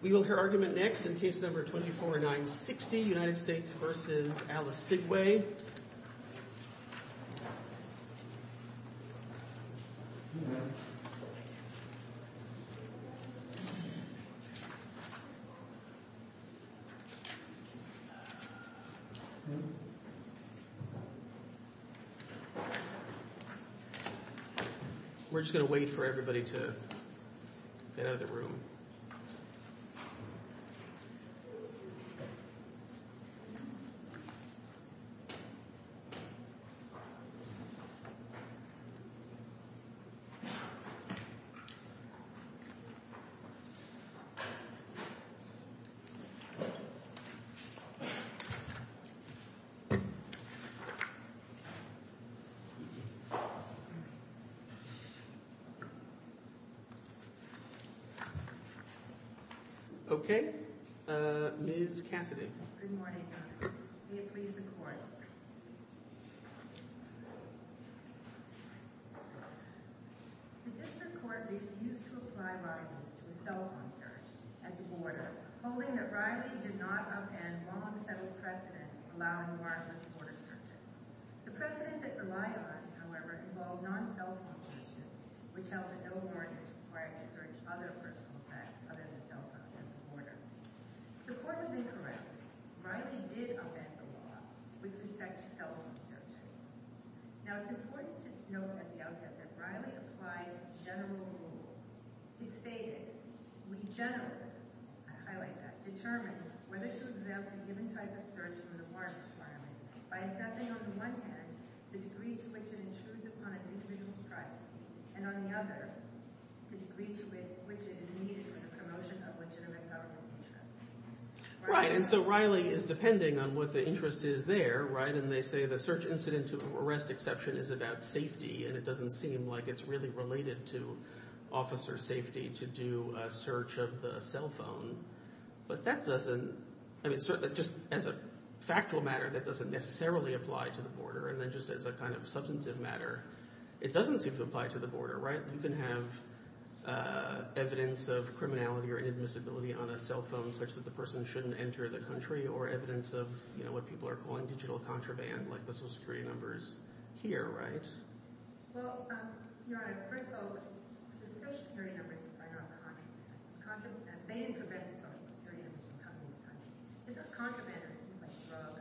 We will hear argument next in case number 24960, United States v. Alisigwe. We are just going to wait for everybody to get out of the room. Okay. Ms. Cassidy. Good morning. Good morning. I'm going to be talking about the effect of self-assertion. Now, it's important to note that the outset that Riley applied to general rules. He stated, we generally, I like that, determine whether to exempt a given type of person from the foreign requirement by assessing on one hand the degree to which an intrusion on an individual's rights, and on the other, the degree to which it is needed for the promotion of legitimate government. Right. And so Riley is depending on what the interest is there, right? And they say the search incident to arrest exception is about safety, and it doesn't seem like it's really related to officer safety to do a search of the cell phone. But that doesn't, I mean, just as a factual matter, that doesn't necessarily apply to the border. And then just as a kind of substantive matter, it doesn't seem to apply to the border, right? You can have evidence of criminality or inadmissibility on a cell phone such that the person shouldn't enter the country, or evidence of, you know, what people are calling digital contraband, like this is three numbers here, right? Well, Your Honor, first of all, the question here is about contraband. Contraband is a way in preventing someone from entering the country. If a contraband is being shown,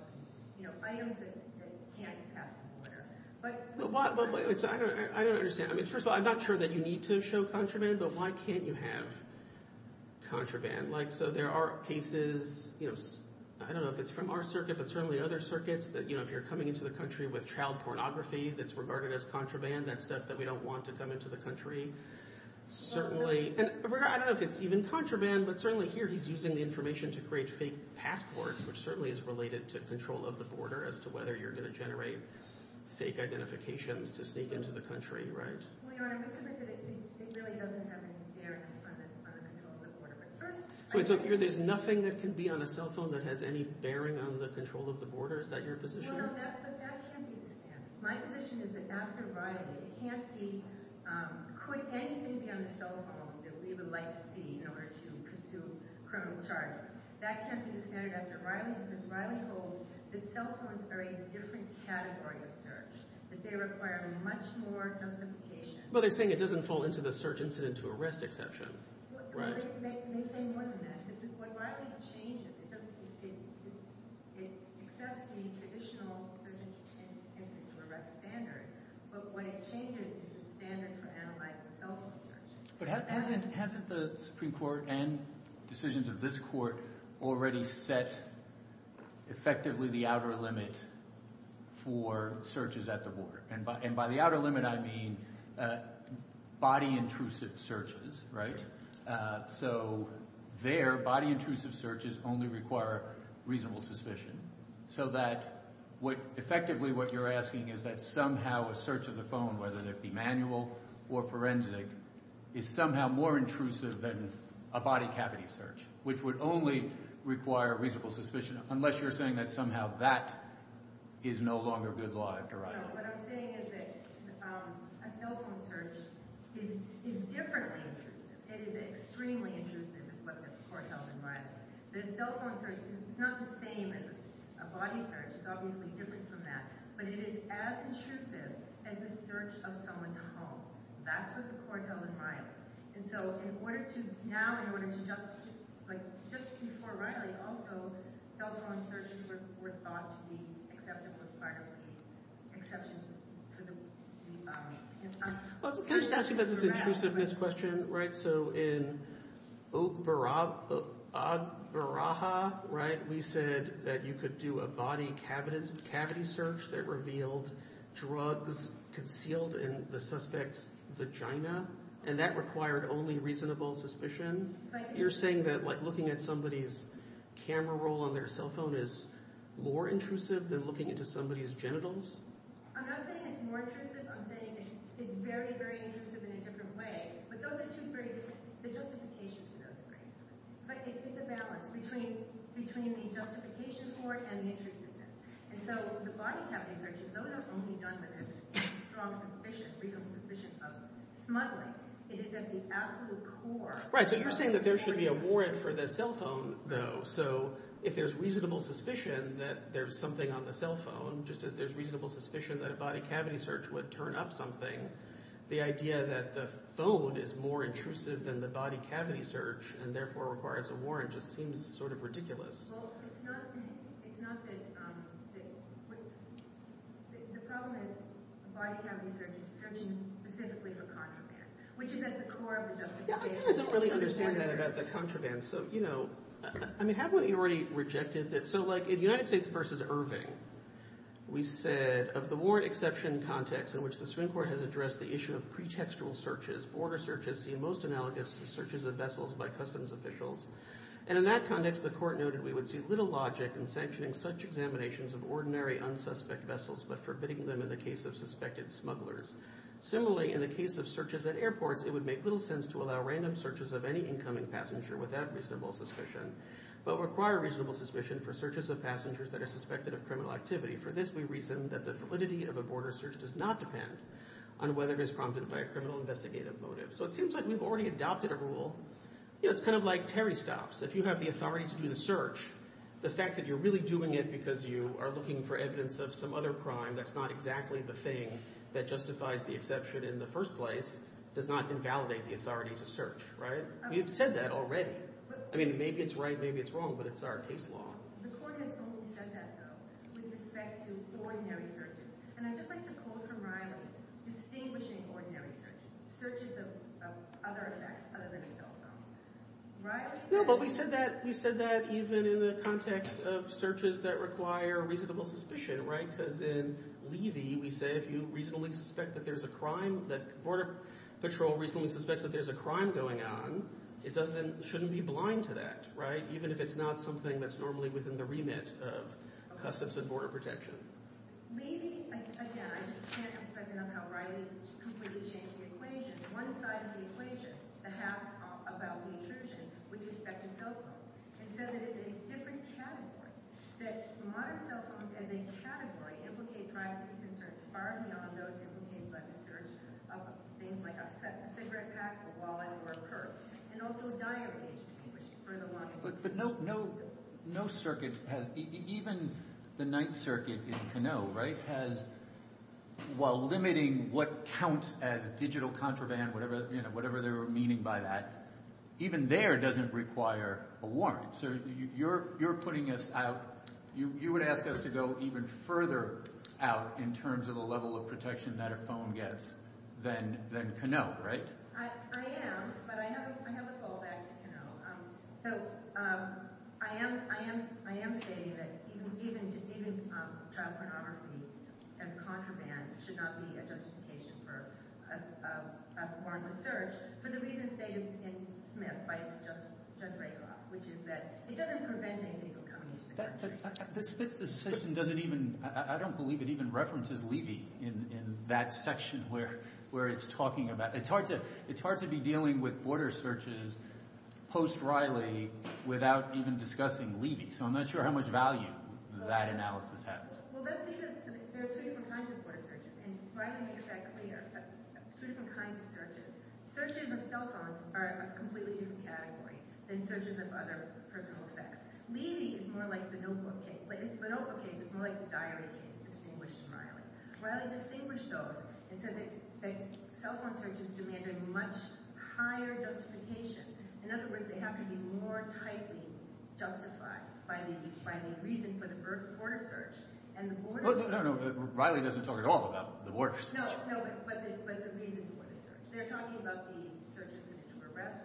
you know, by a person, they can't have the border. But... I don't understand. I mean, first of all, I'm not sure that you need to show contraband, but why can't you have contraband? Like, so there are cases, you know, I don't know if it's from our circuit, but certainly other circuits, that, you know, if you're coming into the country with child pornography that's regarded as contraband, that stuff that we don't want to come into the country, certainly... And I don't know if it's even contraband, but certainly here he's using the information to create fake passports, which certainly is related to control of the border as to whether you're going to generate fake identifications to sneak into the country, right? Well, Your Honor, I'm concerned that it really doesn't have any bearing on the control of the border. So here there's nothing that can be on a cell phone that has any bearing on the control of the border? Is that your position? Well, that can be a concern. My position is that after Riley, it can't be, could anything on the cell phone that we would like to see in order to pursue criminal charges, that can't be considered after Riley because Riley holds that cell phones are in a different category of search, that they require a much more complicated... Well, they're saying it doesn't fall into the search incident or arrest exception, right? Well, they say more than that. What Riley changes is that it accepts the traditional search and detention standards, but what it changes is the standard for analyzing cell phone searches. But hasn't the Supreme Court and decisions of this court already set effectively the outer limit for searches at the border? And by the outer limit I mean body intrusive searches, right? So there, body intrusive searches only require reasonable suspicion. So that effectively what you're asking is that somehow a search of the phone, whether it be manual or forensic, is somehow more intrusive than a body cavity search, which would only require reasonable suspicion unless you're saying that somehow that is no longer good law after Riley. No, no, no. What I'm saying is that a cell phone search is differently intrusive. It is extremely intrusive, is what the court held in Riley. The cell phone search is not the same as a body search. It's obviously different from that. But it is as intrusive as the search of someone's home. That's what the court held in Riley. And so in order to, now in order to judge, but just before Riley also, cell phone searches were thought to be exceptions for Riley. Exceptions for the body. Well, can I just ask you about the intrusiveness question, right? So in Oberaha, right, we said that you could do a body cavity search that revealed drugs concealed in the suspect's vagina. And that required only reasonable suspicion. You're saying that looking at somebody's camera roll on their cell phone is more intrusive than looking into somebody's genitals? I'm not saying it's more intrusive. I'm saying it's very, very intrusive in a different way. But those are two very different things. The justification for those things. But it's a balance between a justification for it and an intrusiveness. And so with the body cavity searches, those are only done with a strong suspicion, reasonable suspicion of smuggling. Right, so you're saying that there should be a warrant for the cell phone, though. So if there's reasonable suspicion that there's something on the cell phone, just as there's reasonable suspicion that a body cavity search would turn up something, the idea that the phone is more intrusive than the body cavity search, and therefore requires a warrant, just seems sort of ridiculous. Well, it's not that the problem is body cavity searches. I mean, specifically for contraband. Which is at the core of the justification. I don't really understand that about the contraband. So, you know, I mean, haven't you already rejected that? So, like, in United States v. Irving, we said, of the warrant exception context in which the Supreme Court has addressed the issue of pretextual searches, border searches, the most analogous to searches of vessels by customs officials. And in that context, the court noted, we would see little logic in sanctioning such examinations of ordinary unsuspect vessels, but forbidding them in the case of suspected smugglers. Similarly, in the case of searches at airports, it would make little sense to allow random searches of any incoming passenger without reasonable suspicion, but require reasonable suspicion for searches of passengers that are suspected of criminal activity. For this we reason that the validity of a border search does not depend on whether it is prompted by a criminal investigative motive. So it seems like you've already adopted a rule. Yeah, it's kind of like periscopes. If you have the authority to do the search, the fact that you're really doing it because you are looking for evidence of some other crime that's not exactly the thing that justifies the exception in the first place does not invalidate the authority to search, right? You've said that already. I mean, maybe it's right, maybe it's wrong, but it's our case law. The court has already done that, though, with respect to ordinary searches. And I'd just like to close the rhyme with distinguishing ordinary searches. Searches of other effects other than criminal. Right? Yeah, but you said that even in the context of searches that require reasonable suspicion, right? Because in Levy, we say if you reasonably suspect that there's a crime, that Border Patrol reasonably suspects that there's a crime going on, it shouldn't be blind to that, right? Even if it's not something that's normally within the remit of Customs and Border Protection. Maybe, again, I just can't, because I don't know how right it is to completely change the equation. One side of the equation, a half a crop about the intrusion, with respect to cell phones. And so it is a different category, that modern cell phones as a category implicate crime and conservation. Far beyond those implicated by the search of things like a cigarette pack, a wallet, or a purse. And also a diary. But no circuit has, even the Ninth Circuit in Canoe, right? Has, while limiting what counts as a digital contraband, whatever they were meaning by that, even there doesn't require a warrant. So you're putting us out, you would have to go even further out in terms of the level of protection that a phone gets than Canoe, right? I am, but I have a fallback to Canoe. So, I am saying that even child pornography and contraband should not be a justification for a warranted search. For the reason stated in Command 5, which is that it doesn't prevent anything from coming to the country. But the system doesn't even, I don't believe it even references leaving in that section where it's talking about. It's hard to be dealing with border searches post-Riley without even discussing leaving. So I'm not sure how much value that analysis has. Well, let's think of it. There are three different kinds of border searches. And Riley's trajectory has three different kinds of searches. Searches with cell phones are a completely different category than searches with other personal effects. Leaving is more like the notebook game. But it's the notebook game. It's more like the diary game in English and Riley. Riley, the papers show that cell phone searches demand a much higher justification. In other words, they have to be more tightly justified by the reason for the border search. No, no, no. Riley doesn't talk at all about the border search. No, no. But the reason for the border search. They're talking about the search with two arrests.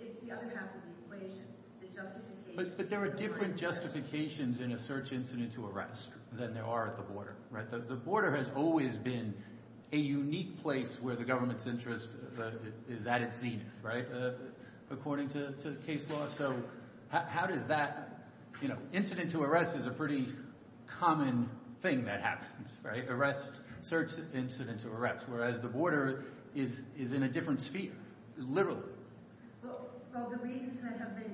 It's the other half of the equation. The justification. But there are different justifications in a search incident to arrest than there are at the border. Right? The border has always been a unique place where the government's interest is at its knees. Right? According to the case law. So how did that, you know, incident to arrest is a pretty common thing that happens. Right? Arrest, search, incident to arrest. Whereas the border is in a different sphere. Literally. Well, the reasons that have been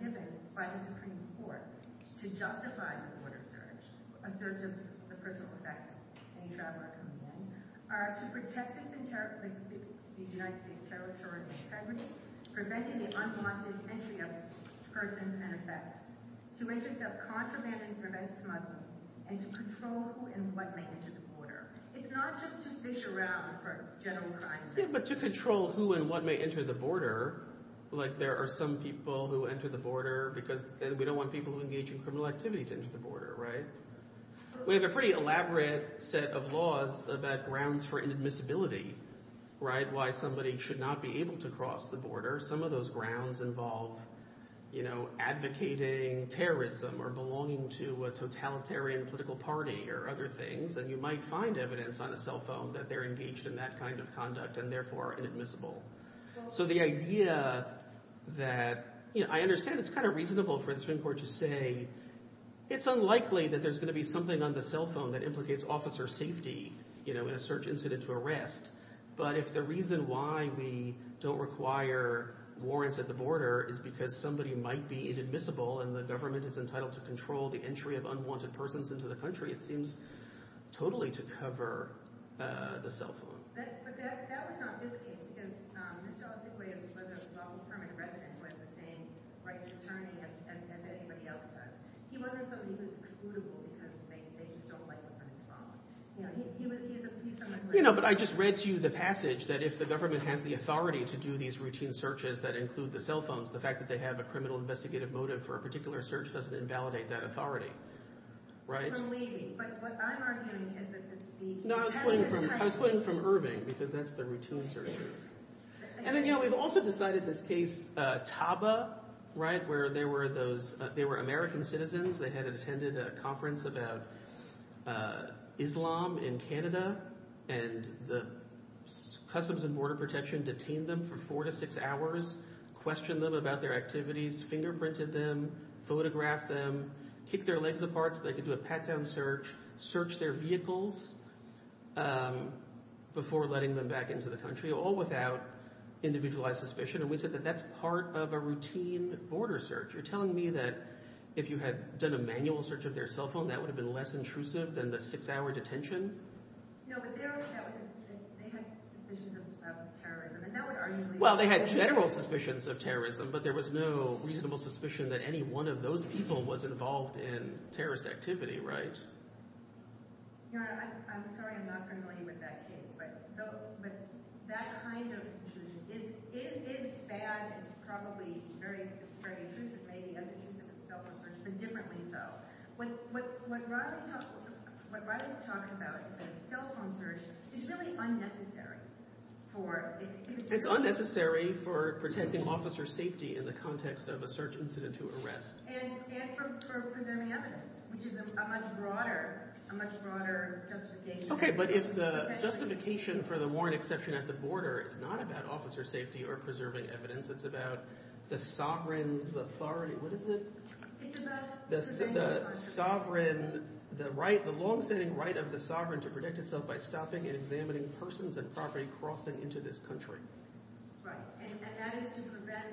given by the Supreme Court to justify the border search, in terms of the personal effects and the traffickers coming in, are to protect the territory, the United States territory and its heritage, preventing the unwanted entry of persons and effects, to intercept contraband and prevent smuggling, and to control who and what may enter the border. It's not just to fish around for general crime. It's to control who and what may enter the border. Like, there are some people who enter the border because we don't want people engaging in criminal activity to enter the border. Right? We have a pretty elaborate set of laws about grounds for inadmissibility. Right? Why somebody should not be able to cross the border. Some of those grounds involve, you know, advocating terrorism or belonging to a totalitarian political party or other things. And you might find evidence on a cell phone that they're engaged in that kind of conduct and therefore are inadmissible. So the idea that, you know, I understand it's kind of reasonable for the Supreme Court to say it's unlikely that there's going to be something on the cell phone that implicates officer safety, you know, in a search incident to arrest. But if the reason why we don't require warrants at the border is because somebody might be inadmissible and the government is entitled to control the entry of unwanted persons into the country, it seems totally to cover the cell phone. But that was not his case. Because Michelle's equation was that all the permanent residents were the same, right, returning as anybody else was. He wondered if it was excludable because they were so likely to respond. You know, but I just read to you the passage that if the government has the authority to do these routine searches that include the cell phones, the fact that they have a criminal investigative motive for a particular search doesn't invalidate that authority. Right? No, I was quoting from Irving because that's the routine searches. And then, you know, we've also decided this case, Taba, right, where there were those American citizens that had attended a conference about Islam in Canada and the Customs and Border Protection detained them for four to six hours, questioned them about their activities, fingerprinted them, photographed them, kicked their legs apart so they could do a pat-down search, searched their vehicles before letting them back into the country, all without individualized suspicion. And we said that that's part of a routine border search. You're telling me that if you had done a manual search of their cell phone, that would have been less intrusive than the six-hour detention? No, but they only had suspicions of terrorism. Well, they had general suspicions of terrorism, but there was no reasonable suspicion that any one of those people was involved in terrorist activity, right? Your Honor, I'm sorry I'm not familiar with that case, but that kind of intrusion, it is bad and probably very intrusive as a case of a cell phone search, but differently so. What Rodney's talking about is that a cell phone search is really unnecessary for an intrusion. It's unnecessary for protecting officer safety in the context of a search incident to arrest. And for preserving evidence, which is a much broader justification. Okay, but if the justification for the warrant exception at the border is not about officer safety or preserving evidence, it's about the sovereign's authority, what is it? It's about the sovereign's authority. The sovereign's, the right, the long-standing right of the sovereign to protect itself by stopping and examining persons and property crossing into this country. Right, and that is to prevent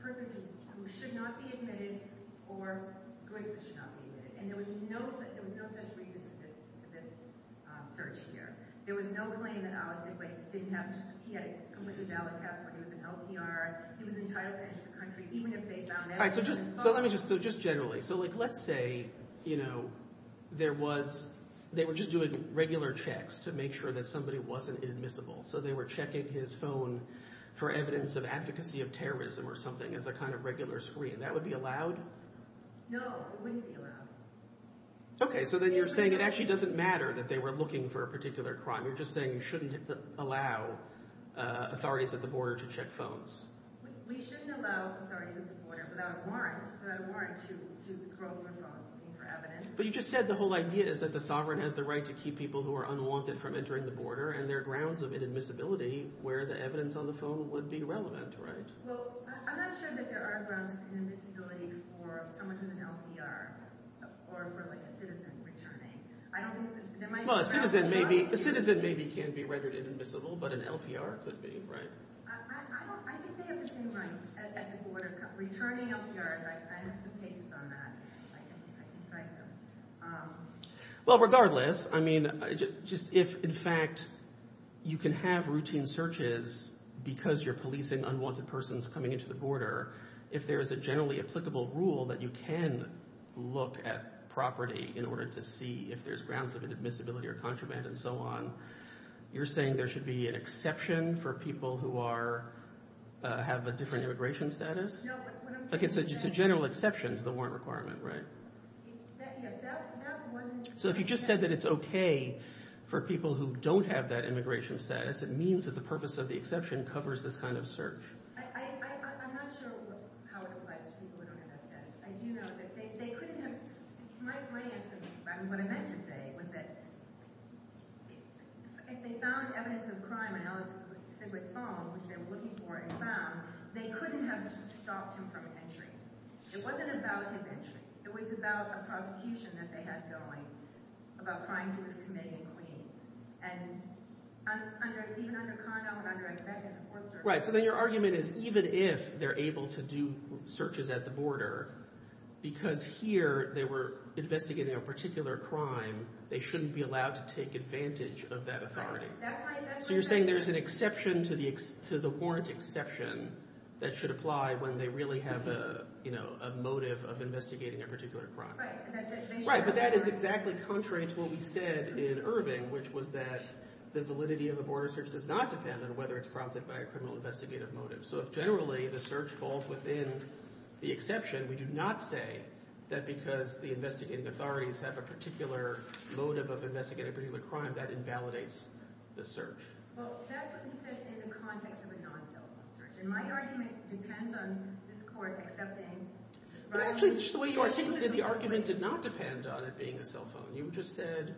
persons who should not be impeded or persons who should not be impeded. And there was no such reason for this search here. There was no claim in our laws that they didn't have to be impeded. It was a valid category. It was an LPR. It was entitled to enter the country even if they found evidence. So let me just, so just generally. So like let's say, you know, there was, they were just doing regular checks to make sure that somebody wasn't admissible. So they were checking his phone for evidence of advocacy of terrorism or something. It's a kind of regular screen. That would be allowed? No, it wouldn't be allowed. Okay, so then you're saying it actually doesn't matter that they were looking for a particular crime. You're just saying you shouldn't allow authorities at the border to check phones. We shouldn't allow authorities at the border without a warrant, without a warrant to scroll your phone to look for evidence. But you just said the whole idea is that the sovereign has the right to keep people who are unwanted from entering the border and there are grounds of inadmissibility where the evidence on the phone would be relevant, right? Well, I'm not sure that there are grounds of inadmissibility for someone in an LPR or for like a citizen returning. Well, a citizen maybe, a citizen maybe can be regarded as admissible, but an LPR could be, right? I think they have the same rights at the border, but returning LPRs, I have to base on that, I think. Well, regardless, I mean, if in fact you can have routine searches because you're policing unwanted persons coming into the border, if there is a generally applicable rule that you can look at property in order to see if there's grounds of inadmissibility or contraband and so on, you're saying there should be an exception for people who are, have a different immigration status? Okay, so it's a general exception to the warrant requirement, right? That wasn't... So if you just said that it's okay for people who don't have that immigration status, it means that the purpose of the exception covers this kind of search. I'm not sure how it applies to people who don't have that status. I do know that they couldn't have... My way of thinking about what I meant to say was that if they found evidence of crime and it was found, which they were looking for and found, they couldn't have just stopped them from entering. It wasn't an argument. It was about a provocation that they had going, about trying to be committing a crime. And even under crime, I'm trying to... Right, so then your argument is even if they're able to do searches at the border, because here they were investigating a particular crime, they shouldn't be allowed to take advantage of that authority. So you're saying there's an exception to the warrant exception that should apply when they really have a motive of investigating a particular crime. Right, but that is exactly contrary to what we said in Irving, which was that the validity of a border search does not depend on whether it's prompted by a criminal investigative motive. So generally, the search falls within the exception. We do not say that because the investigative authorities have a particular motive of investigating a particular crime, that invalidates the search. Well, that's what you said in the context of a non-cell phone search, and my argument depends on this court accepting... Actually, just the way you articulated the argument did not depend on it being a cell phone. You just said,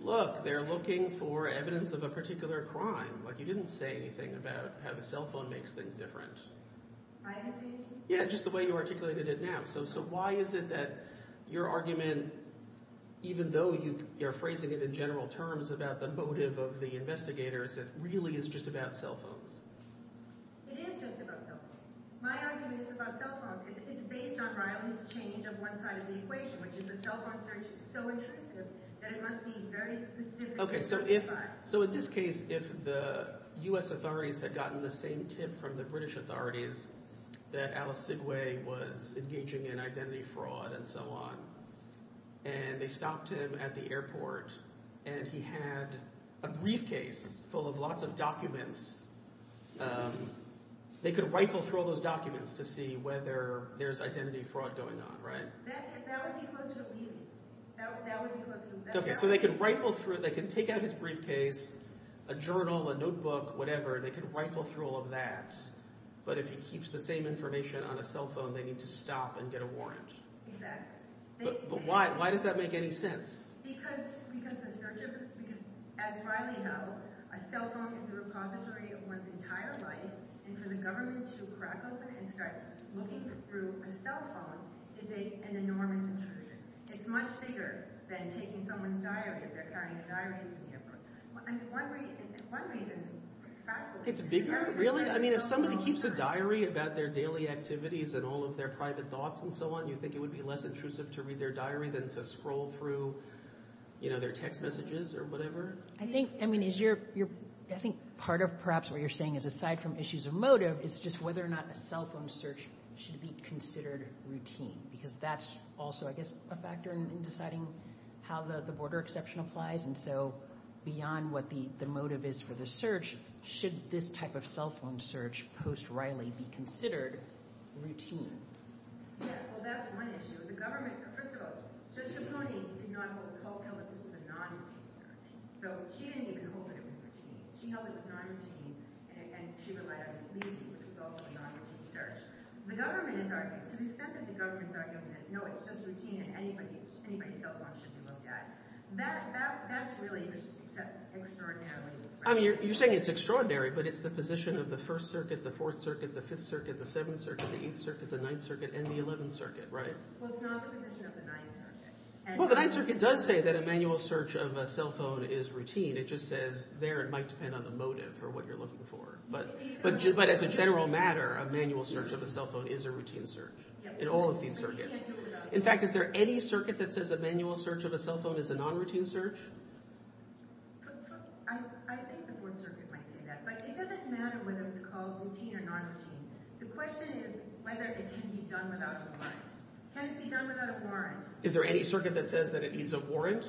look, they're looking for evidence of a particular crime. Like, you didn't say anything about how the cell phone makes things different. My interpretation? Yeah, just the way you articulated it now. So why is it that your argument, even though you're phrasing it in general terms about the motive of the investigators, that really it's just about cell phones? It is just about cell phones. My argument is about cell phones, because it's based on violence change of one side of the equation, which is that cell phone search is so intrusive that it must be very specific... Okay, so in this case, if the U.S. authorities had gotten the same tip from the British authorities that Al Sidwe was engaging in identity fraud and so on, and they stopped him at the airport, and he had a briefcase full of lots of documents, they could rifle through all those documents to see whether there's identity fraud going on, right? That would be good to me. That would be good to them. Okay, so they can rifle through, they can take out his briefcase, a journal, a notebook, whatever, and they can rifle through all of that, but if he keeps the same information on a cell phone, they need to stop and get a warrant. Exactly. But why? Why does that make any sense? Because the search of, as Riley knows, a cell phone is a repository for his entire life, and for the government to crack open and start looking through a cell phone is an enormous intrusion. It's much bigger than taking someone's diary, sorry, diary of a person. And for one reason, it's practical. It's bigger? Really? I mean, if somebody keeps a diary about their daily activities and all of their private thoughts and so on, you think it would be less intrusive to read their diary than to scroll through their text messages or whatever? I think part of perhaps what you're saying is aside from issues of motive, it's just whether or not a cell phone search should be considered routine, because that's also I guess a factor in deciding how the border exception applies. And so beyond what the motive is for the search, should this type of cell phone search post Riley be considered routine? Well, that's one issue. The government, for example, Susan Cooney did not hold a cell phone as a non-routine search. So she didn't even hold it as a routine. She held it as a non-routine, and she provided a leading result in non-routine search. The government is arguing, the government is arguing that no, it's just routine, and anybody's cell phone should be looked at. That's really just, that's extraordinary. I mean, you're saying it's extraordinary, but it's the position of the First Circuit, the Fourth Circuit, the Fifth Circuit, the Seventh Circuit, the Eighth Circuit, the Ninth Circuit, and the Eleventh Circuit, right? Well, it's not the position of the Ninth Circuit. Well, the Ninth Circuit does say that a manual search of a cell phone is routine. It just says there it might depend on the motive or what you're looking for. But as a general matter, a manual search of a cell phone is a routine search in all of these circuits. In fact, is there any circuit that says a manual search of a cell phone is a non-routine search? I think the Fourth Circuit might say that. But it doesn't matter whether it's called routine or non-routine. The question is whether it can be done without a warrant. Can it be done without a warrant? Is there any circuit that says that it needs a warrant?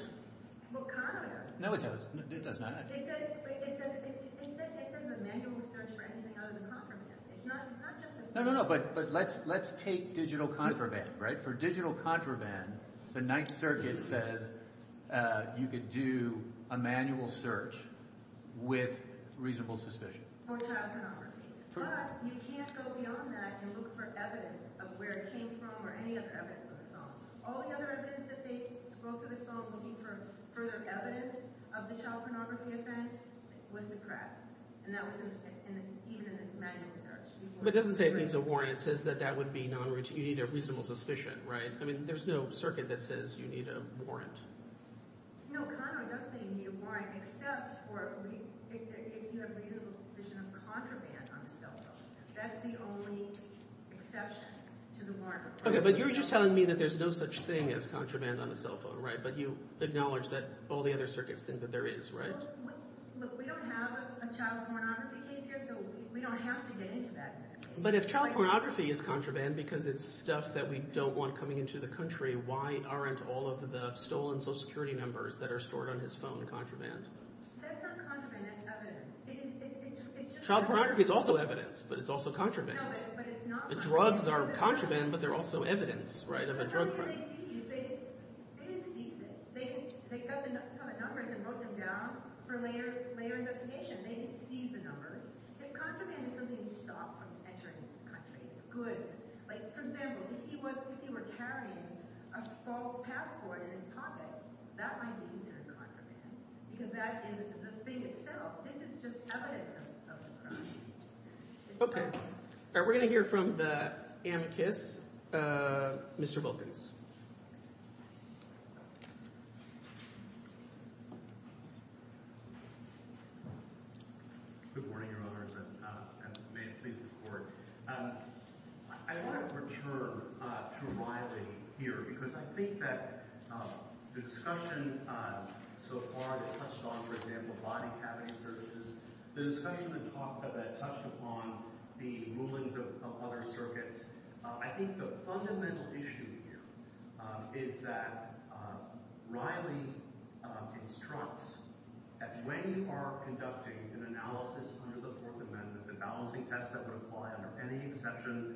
Well, Conrad does. No, it doesn't. It does not. It says, wait, it says, can you guys take from the manual search for anything other than contraband? It's not just a... No, no, no, but let's take digital contraband, right? For digital contraband, the Ninth Circuit says you could do a manual search with reasonable suspicion. But you can't go beyond that and look for evidence of where it came from or any other evidence of the cell. All the other evidence that they wrote to the cell looking for further evidence of the cell phonography event was correct. And that was even in the manual search. But it doesn't say it needs a warrant. It says that that would be non-routine. You need a reasonable suspicion, right? I mean, there's no circuit that says you need a warrant. No, Conrad does say you need a warrant except for if you have a reasonable suspicion of contraband on a cell phone. That's the only exception to the warrant requirement. Okay, but you're just telling me that there's no such thing as contraband on a cell phone, right? But you acknowledge that all the other circuits think that there is, right? Look, we don't have a child pornography case, so we don't have to get into that. But if child pornography is contraband because it's stuff that we don't want coming into the country, why aren't all of the stolen social security numbers that are stored on his phone contraband? That's not contraband, that's evidence. Child pornography is also evidence, but it's also contraband. The drugs are contraband, but they're also evidence, right? They cut the numbers and wrote them down for later investigation. They didn't see the numbers. If contraband is something you stop when you enter into the country, it's good. Like, for example, if he was carrying a false passport in his pocket, that might be even as contraband because that is the thing itself. This is just evidence of the crime. Okay. We're going to hear from the anarchist, Mr. Wilkins. Good morning, Your Honors, and may it please the Court. I want to return to my theory here because I think that the discussion so far has touched upon, for example, body-cabbing services. The discussion has touched upon the movement of other circuits. I think the fundamental issue here is that Riley instructs that when you are conducting an analysis under the Fourth Amendment, an analysis that's a requirement, and any exception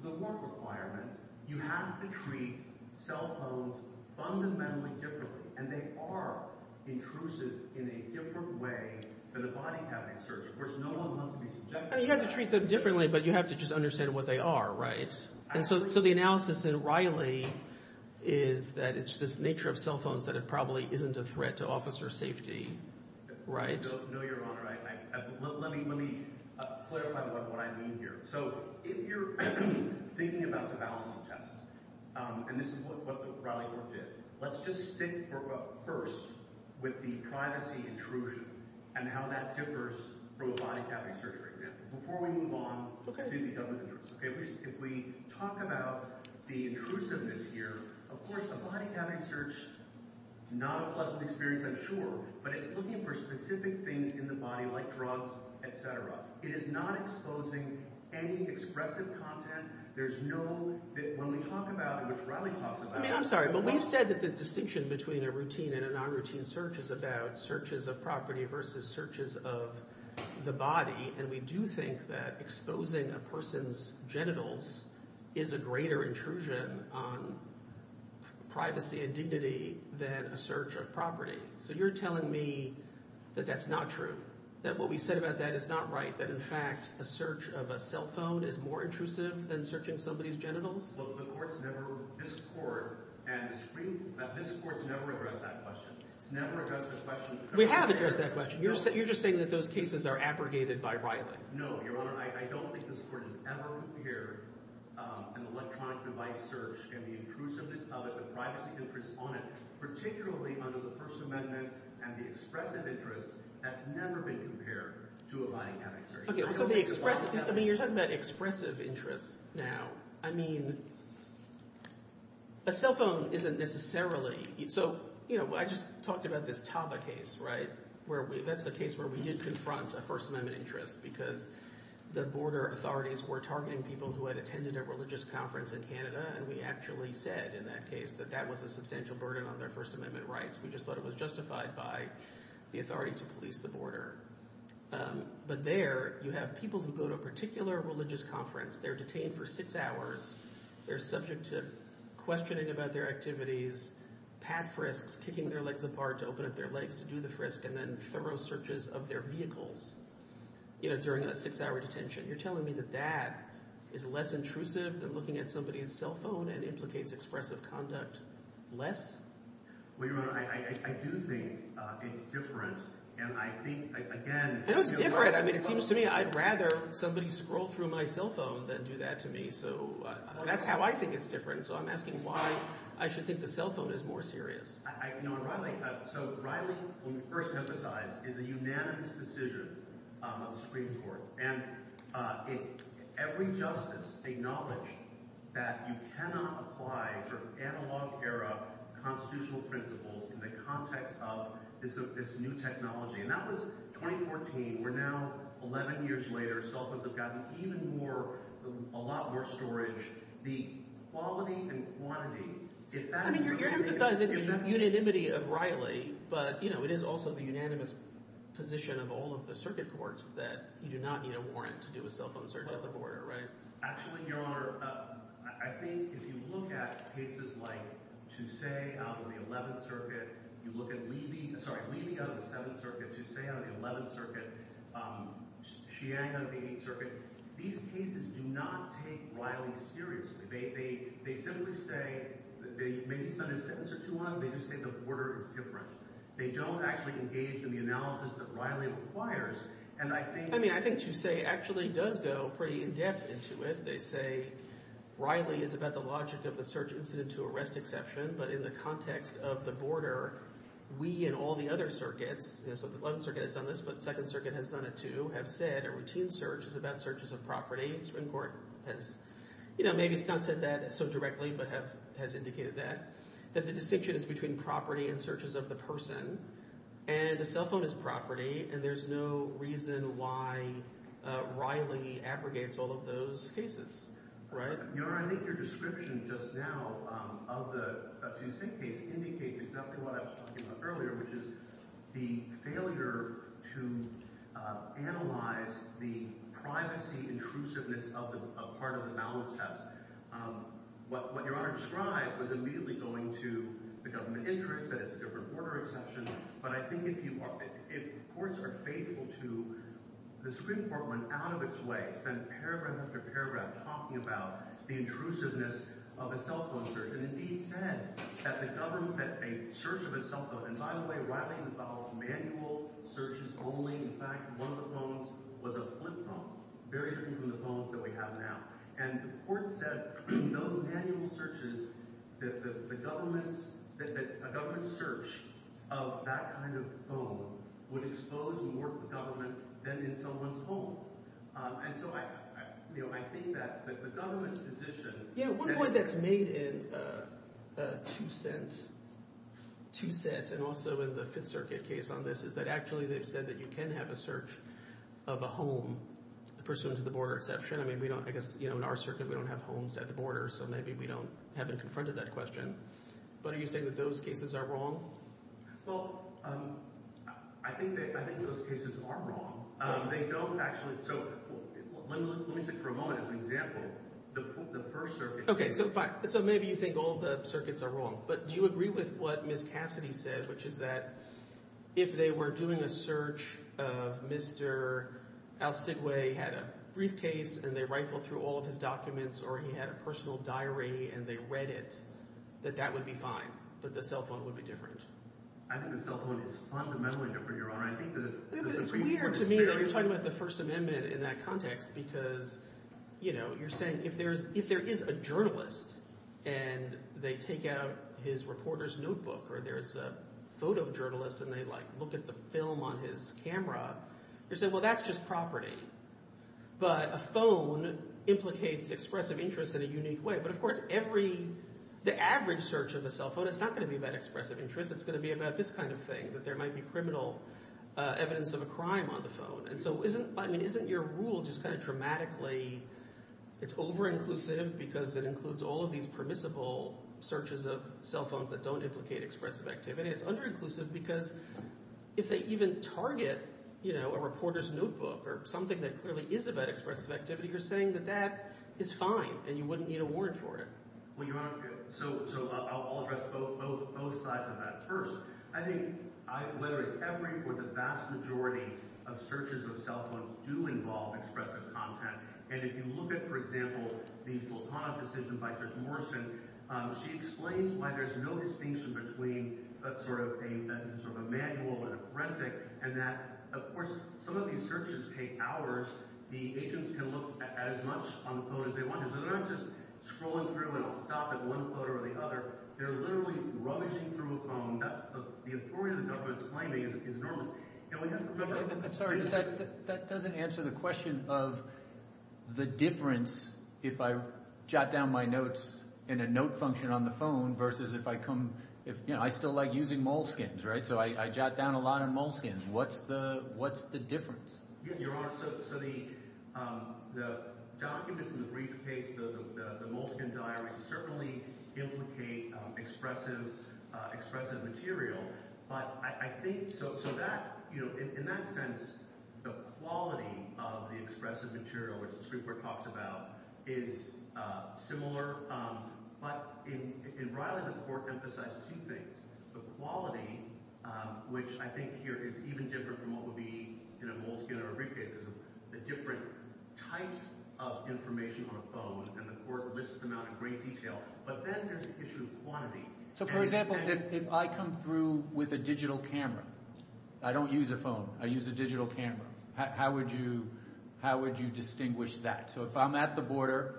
to the Fourth Requirement, you have to treat cell phones fundamentally differently, and they are intrusive in a different way than a body-cabbing service. Of course, no one wants to be subjected to that. You have to treat them differently, but you have to just understand what they are, right? Absolutely. So the analysis in Riley is that it's just the nature of cell phones that it probably isn't a threat to officer safety, right? No, Your Honor. Let me clarify what I mean here. So if you're thinking about the balance of justice, and this is what Riley wanted to say, let's just stick, first, with the privacy intrusion and how that differs from a body-cabbing search. Before we move on, let's do the government. If we talk about the intrusiveness here, of course, a body-cabbing search is not a pleasant experience, I'm sure, but it's looking for specific things in the mind, like drugs, etc. It is not exposing any expressive content. When we talk about what Riley talked about... I'm sorry, but we said that the distinction between a routine and a non-routine search is about searches of property versus searches of the body, and we do think that exposing a person's genitals is a greater intrusion on privacy and dignity than a search of property. So you're telling me that that's not true, that what we said about that is not right, that, in fact, the search of a cell phone is more intrusive than searching somebody's genitals? Well, the court's never... This court has never addressed that question. We have addressed that question. You're just saying that those cases are abrogated by Riley. No, Your Honor. I don't think this court has ever heard an electronic device search and the intrusiveness of it, the privacy interest on it, particularly under the First Amendment, and the expressive interest has never been compared to a lie detector. Okay, so you're talking about expressive interest now. I mean, a cell phone isn't necessarily... So, you know, I just talked about this Taba case, right? That's the case where we did confront a First Amendment interest because the border authorities were targeting people who had attended a religious conference in Canada, and we actually said in that case that that was a substantial burden on their First Amendment rights. We just thought it was justified by the authority to police the border. But there, you have people who go to a particular religious conference. They're detained for six hours. They're subject to questioning about their activities, pad frisks, kicking their legs apart to open up their legs to do the frisk, and then thorough searches of their vehicles during that six-hour detention. You're telling me that that is less intrusive than looking at somebody's cell phone and implicates expressive conduct less? Well, you know, I do think it's different, and I think, again... It is different. I mean, it seems to me I'd rather somebody scroll through my cell phone than do that to me. So that's how I think it's different. So I'm asking why I should think the cell phone is more serious. No, Riley... So Riley, when you first emphasized, it's a unanimous decision of the Supreme Court. And every justice acknowledged that you cannot apply analog era constitutional principles in the context of this new technology. And that was 2014. We're now 11 years later. Cell phones have gotten even more, a lot more storage. The quality and quantity, is that a unanimous decision? I mean, you're going to have to decide if it's a unanimity of Riley, but it is also the unanimous position of all of the circuit courts that you do not need a warrant to do a cell phone search at the border, right? Actually, Your Honor, I think if you look at cases like Toussaint on the 11th Circuit, you look at Levy... Sorry, Levy on the 7th Circuit, Toussaint on the 11th Circuit, Sheehan on the 8th Circuit, these cases do not take Riley seriously. They simply say... They may be kind of sensitive to one, but they just think the border is different. They don't actually engage in the analysis that Riley requires. And I think... I mean, I think Toussaint actually does go pretty in-depth into it. They say, Riley is about the logic of a search incident to arrest exception, but in the context of the border, we and all the other circuits... You know, so the 11th Circuit has done this, but the 2nd Circuit has done it too, have said a routine search is about searches of property. Swincourt has... You know, maybe it's not said that so directly, but has indicated that. That the distinction is between property and searches of the person. And the cell phone is property, and there's no reason why Riley abrogates all of those cases. Right? Your Honor, I think your description just now of the... Indicates exactly what I was talking about earlier, which is the failure to analyze the privacy intrusiveness of a part of the knowledge test. What your Honor described was immediately going to become an interest, that it's a different border exception, but I think if you... If courts are faithful to... The Supreme Court went out of its way, spent paragraph after paragraph talking about the intrusiveness of a cell phone search, and indeed said that the government... That a search of a cell phone... And by the way, Riley has followed manual searches only. In fact, one of the phones was a flip phone, very different from the phones that we have now. And the court said, in those manual searches, that a government search of that kind of phone would expose more to government than in someone's home. And so I think that the government's position... Yeah, one point that's made in Two Cents, and also in the Fifth Circuit case on this, is that actually they said that you can have a search of a home pursuant to the border exception. I guess in our circuit, we don't have homes at the border, so maybe we haven't confronted that question. But are you saying that those cases are wrong? Well, I think those cases are wrong. They don't actually... Let me say it for a moment as an example. The First Circuit case... Okay, so maybe you think all the circuits are wrong, but do you agree with what Ms. Cassidy said, which is that if they were doing a search, Mr. Al Stiglay had a briefcase and they rifled through all of his documents, or he had a personal diary and they read it, that that would be fine, that the cell phone would be different? I think the cell phone is fundamentally different, Your Honor. I think that... To me, you're talking about the First Amendment in that context, because you're saying if there is a journalist and they take out his reporter's notebook, or there's a photojournalist and they look at the film on his camera, you're saying, well, that's just property. But a phone implicates expressive interest in a unique way. But of course, the average search of a cell phone is not going to be about expressive interest. It's going to be about this kind of thing, that there might be criminal evidence of a crime on the phone. So isn't your rule just kind of dramatically, it's over-inclusive because it includes all of these permissible searches of cell phones that don't implicate expressive activity. It's under-inclusive because if they even target a reporter's notebook or something that clearly is about expressive activity, you're saying that that is fine and you wouldn't need a warrant for it. Well, Your Honor, so I'll address both sides of that first. I think whether it's every, or the vast majority of searches of cell phones do involve expressive content. And if you look at, for example, these photonic decisions by Chris Morrison, she explains why there's no distinction between sort of a manual and a graphic. And that, of course, some of these searches take hours. The agents can look at as much on the phone as they want. They're not just scrolling through and stopping at one photo or the other. They're literally rummaging through a phone. That's the importance of this finding is enormous. And we have to remember... I'm sorry, that doesn't answer the question of the difference if I jot down my notes in a note function on the phone versus if I come, you know, I still like using Moleskins, right? So I jot down a lot in Moleskins. What's the difference? Yes, Your Honor. So the documents in the briefcase, the Moleskin diaries, certainly implicate expressive material. But I think... So that, you know, in that sense, the quality of the expressive material, which Stueckler talks about, is similar. But in Ryder's report emphasizes two things. The quality, which I think here is even different from what would be in a Moleskin or a briefcase, is the different types of information on the phone. And the court lists them out in great detail. But then there's the issue of quantity. So, for example, if I come through with a digital camera, I don't use a phone, I use a digital camera, how would you distinguish that? So if I'm at the border,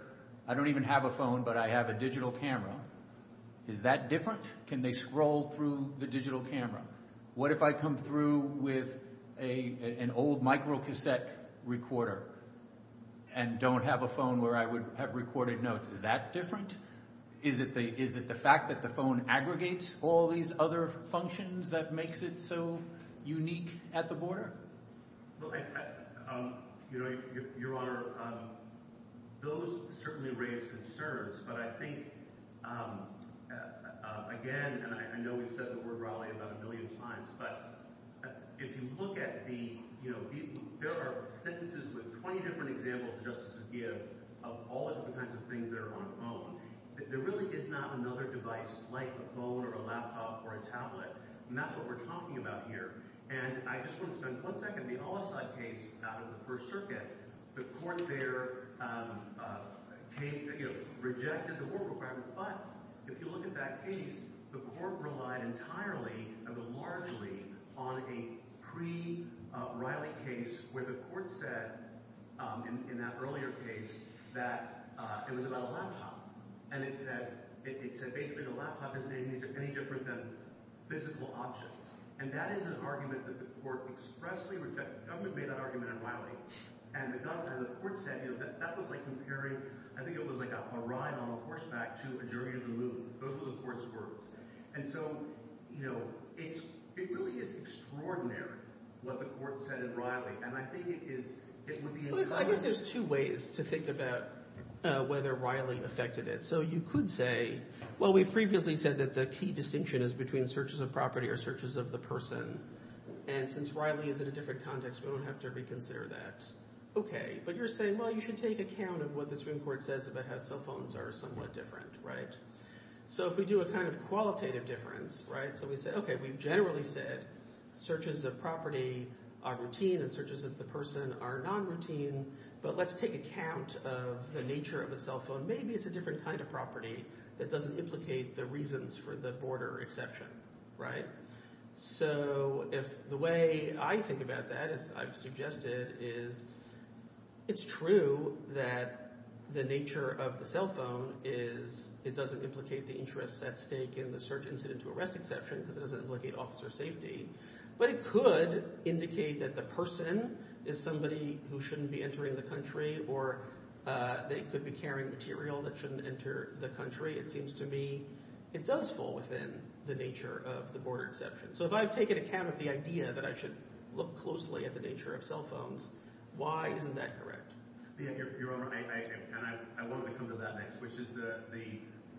I don't even have a phone, but I have a digital camera, is that different? Can they scroll through the digital camera? What if I come through with an old microcassette recorder and don't have a phone where I would have recorded notes, is that different? Is it the fact that the phone aggregates all these other functions that makes it so unique at the border? Go ahead. Your Honor, those certainly raise concerns, but I think, again, and I know we've said the word rally about a million times, but if you look at the, you know, there are sentences with 20 different examples just to give of all of the kinds of things that are on a phone. There really is not another device like a phone or a laptop or a tablet, and that's what we're talking about here. And I just want to spend one second, the Al-Assad case out of the First Circuit, the court there rejected the war program, but if you look at that case, the court relied entirely and largely on a pre-riots case where the court said in that earlier case that it was about a laptop, and it said basically the laptop didn't make any difference in physical options. And that is an argument that the court expressly rejected. That would have been an argument in Riley. And it doesn't. And the court said, you know, that that was like comparing, I think it was like a ride on a horseback to a journey to the moon. Those were the court's words. And so, you know, it really is extraordinary what the court said in Riley, and I think it is... I think there's two ways to think about whether Riley affected it. So you could say, well, we've previously said that the key distinction is between searches of property or searches of the person, and since Riley is in a different context, we don't have to reconsider that. Okay. But you're saying, well, you should take account of what the Supreme Court says about how cell phones are somewhat different, right? So if we do a kind of qualitative difference, right, so we say, okay, we've generally said searches of property are routine and searches of the person are non-routine, but let's take account of the nature of the cell phone. Maybe it's a different kind of property that doesn't implicate the reasons for the border exception, right? So if the way I think about that, as I've suggested, is it's true that the nature of the cell phone is it doesn't implicate the interest at stake in the search incident to arrest exception because it doesn't implicate officer safety, but it could indicate that the person is somebody who shouldn't be entering the country or they could be carrying material that shouldn't enter the country. It seems to me it does fall within the nature of the border exception. So if I've taken account of the idea that I should look closely at the nature of cell phones, why isn't that correct? I want to come to that next, which is the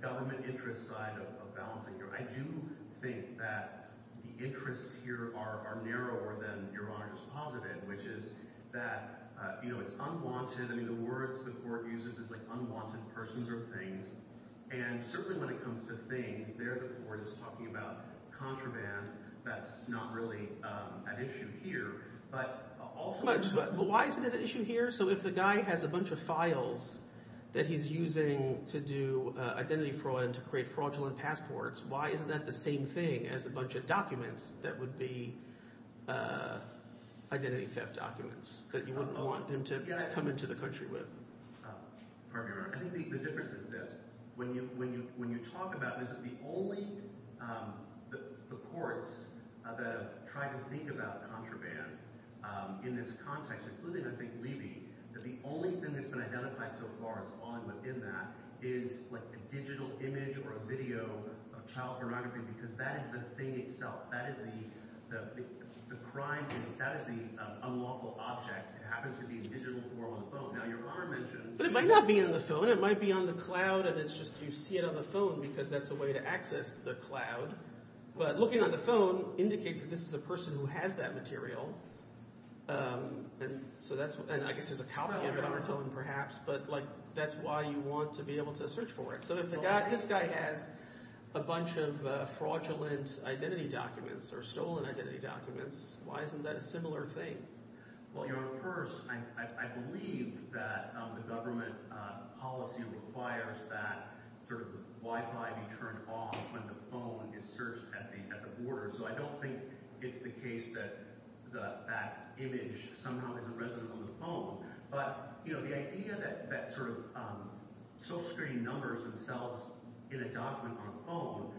government interest side of balancing here. I do think that the interests here are narrower than your line of positive, which is that it's unwanted. The word the court uses is unwanted persons or things, and certainly when it comes to things, there the court is talking about contraband. That's not really an issue here. But why is it an issue here? So if the guy has a bunch of files that he's using to do identity fraud, to create fraudulent passports, why isn't that the same thing as a bunch of documents that would be identity fraudulent? I think the difference is this. When you talk about this, the courts that are trying to think about contraband in this context, including I think Levy, that the only thing that's been identified so far as odd within that is a digital image or a video of child pornography because that is the thing itself. That is the crime. That is the unlawful object. But it might not be in the phone. It might be on the cloud, and it's just you see it on the phone because that's the way to access the cloud. But looking on the phone indicates that this is a person who has that material, and I guess there's a copy of it on the phone perhaps, but that's why you want to be able to search for it. So if this guy has a bunch of fraudulent identity documents or stolen identity documents, why isn't that a similar thing? Well, first, I believe that the government policy requires that Wi-Fi be turned off when the phone is searched at the border, so I don't think it's the case that that image somehow is present on the phone. But the idea that social security numbers themselves in a document on a phone,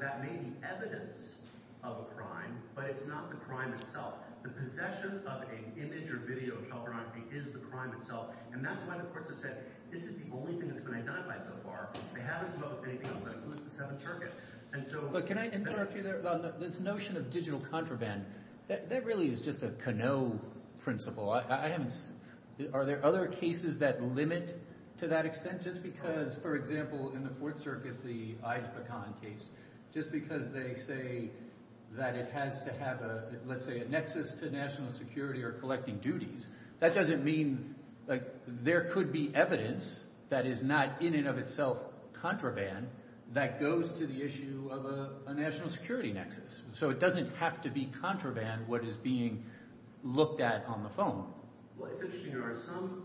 that may be evidence of a crime, but it's not the crime itself. The possession of an image or video of child pornography is the crime itself, and that's why the courts have said this is the only thing that's been identified so far. They haven't thought of anything else. But can I interrupt you there? This notion of digital contraband, that really is just a Canoe principle. Are there other cases that limit to that extent? Just because, for example, in the Fourth Circuit, the Ida Paton case, just because they say that it has to have, let's say, a nexus to national security or collecting duties, that doesn't mean there could be evidence that is not in and of itself contraband that goes to the issue of a national security nexus. So it doesn't have to be contraband what is being looked at on the phone. Well, it's interesting. There are some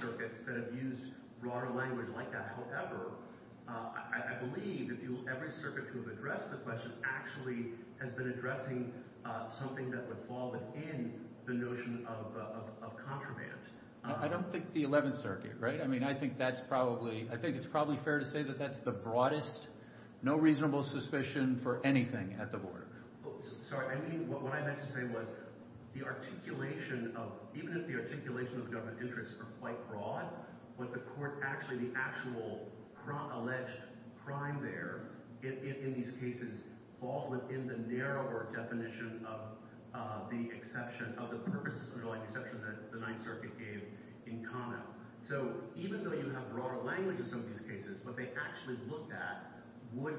circuits that have used broader language like that. However, I believe every circuit that has addressed the question actually has been addressing something that's evolving in the notion of contraband. I don't think the Eleventh Circuit, right? I mean, I think that's probably, I think it's probably fair to say that that's the broadest, no reasonable suspicion for anything at the board. Sorry. I mean, what I meant to say was the articulation of, even if the articulation of government interests are quite broad, but the court actually, the actual alleged crime there, in these cases, fall within the narrower definition of the exception of the purposes of the Ninth Circuit gave in comment. So even though you have broader language in some of these cases, what they actually looked at would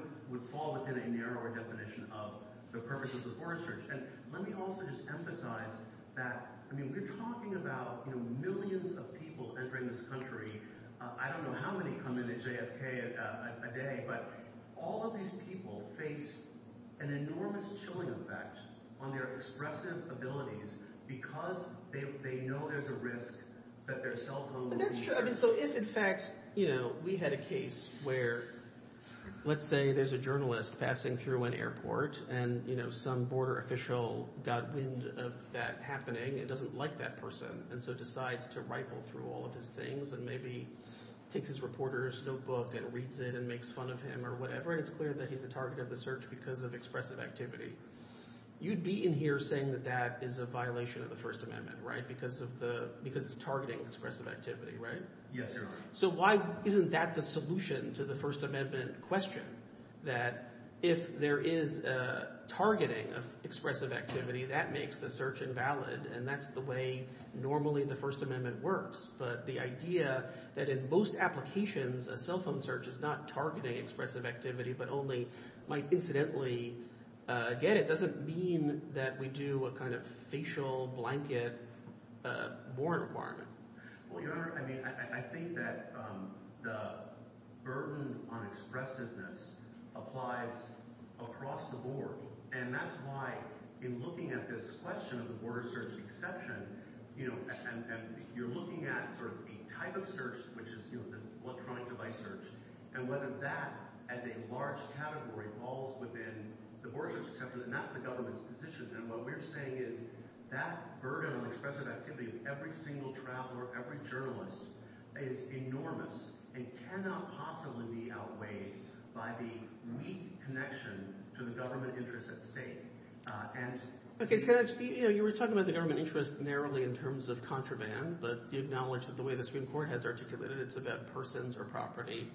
fall within a narrower definition of the purposes of foreign search. And let me also just emphasize that, I mean, we're talking about millions of people entering this country. I don't know how many come into JFK a day, but all of these people face an enormous chilling effect on their expressive abilities because they know there's a risk that their cell phone will be charged. So if, in fact, we had a case where, let's say there's a journalist passing through an airport and some border official got wind of that happening and doesn't like that person and so decides to rifle through all of his things and maybe takes his reporter's notebook and reads it and makes fun of him or whatever, and it's clear that he's the target of the search because of expressive activity, you'd be in here saying that that is a violation of the First Amendment, right? Because of targeting expressive activity, right? Yes, sir. So why isn't that the solution to the First Amendment question? That if there is targeting of expressive activity, that makes the search invalid, and that's the way normally the First Amendment works. But the idea that in most applications, a cell phone search is not targeting expressive activity but only might incidentally get it doesn't mean that we do a kind of facial blanket border bar. Well, Your Honor, I mean, I think that the burden on expressiveness applies across the board, and that's why in looking at this question of border search exception, you know, and you're looking at sort of the type of search, which is, you know, the electronic device search, and whether that as a large category falls within the border search exception and not the government's position. And what we're saying is that burden on expressive activity of every single trial or every journalist is enormous and cannot possibly be outweighed by the weak connection to the government interest at stake. Okay, can I speak? You know, you were talking about the government interest narrowly in terms of contraband, but you acknowledge that the way the Supreme Court has articulated it, it's about persons or property.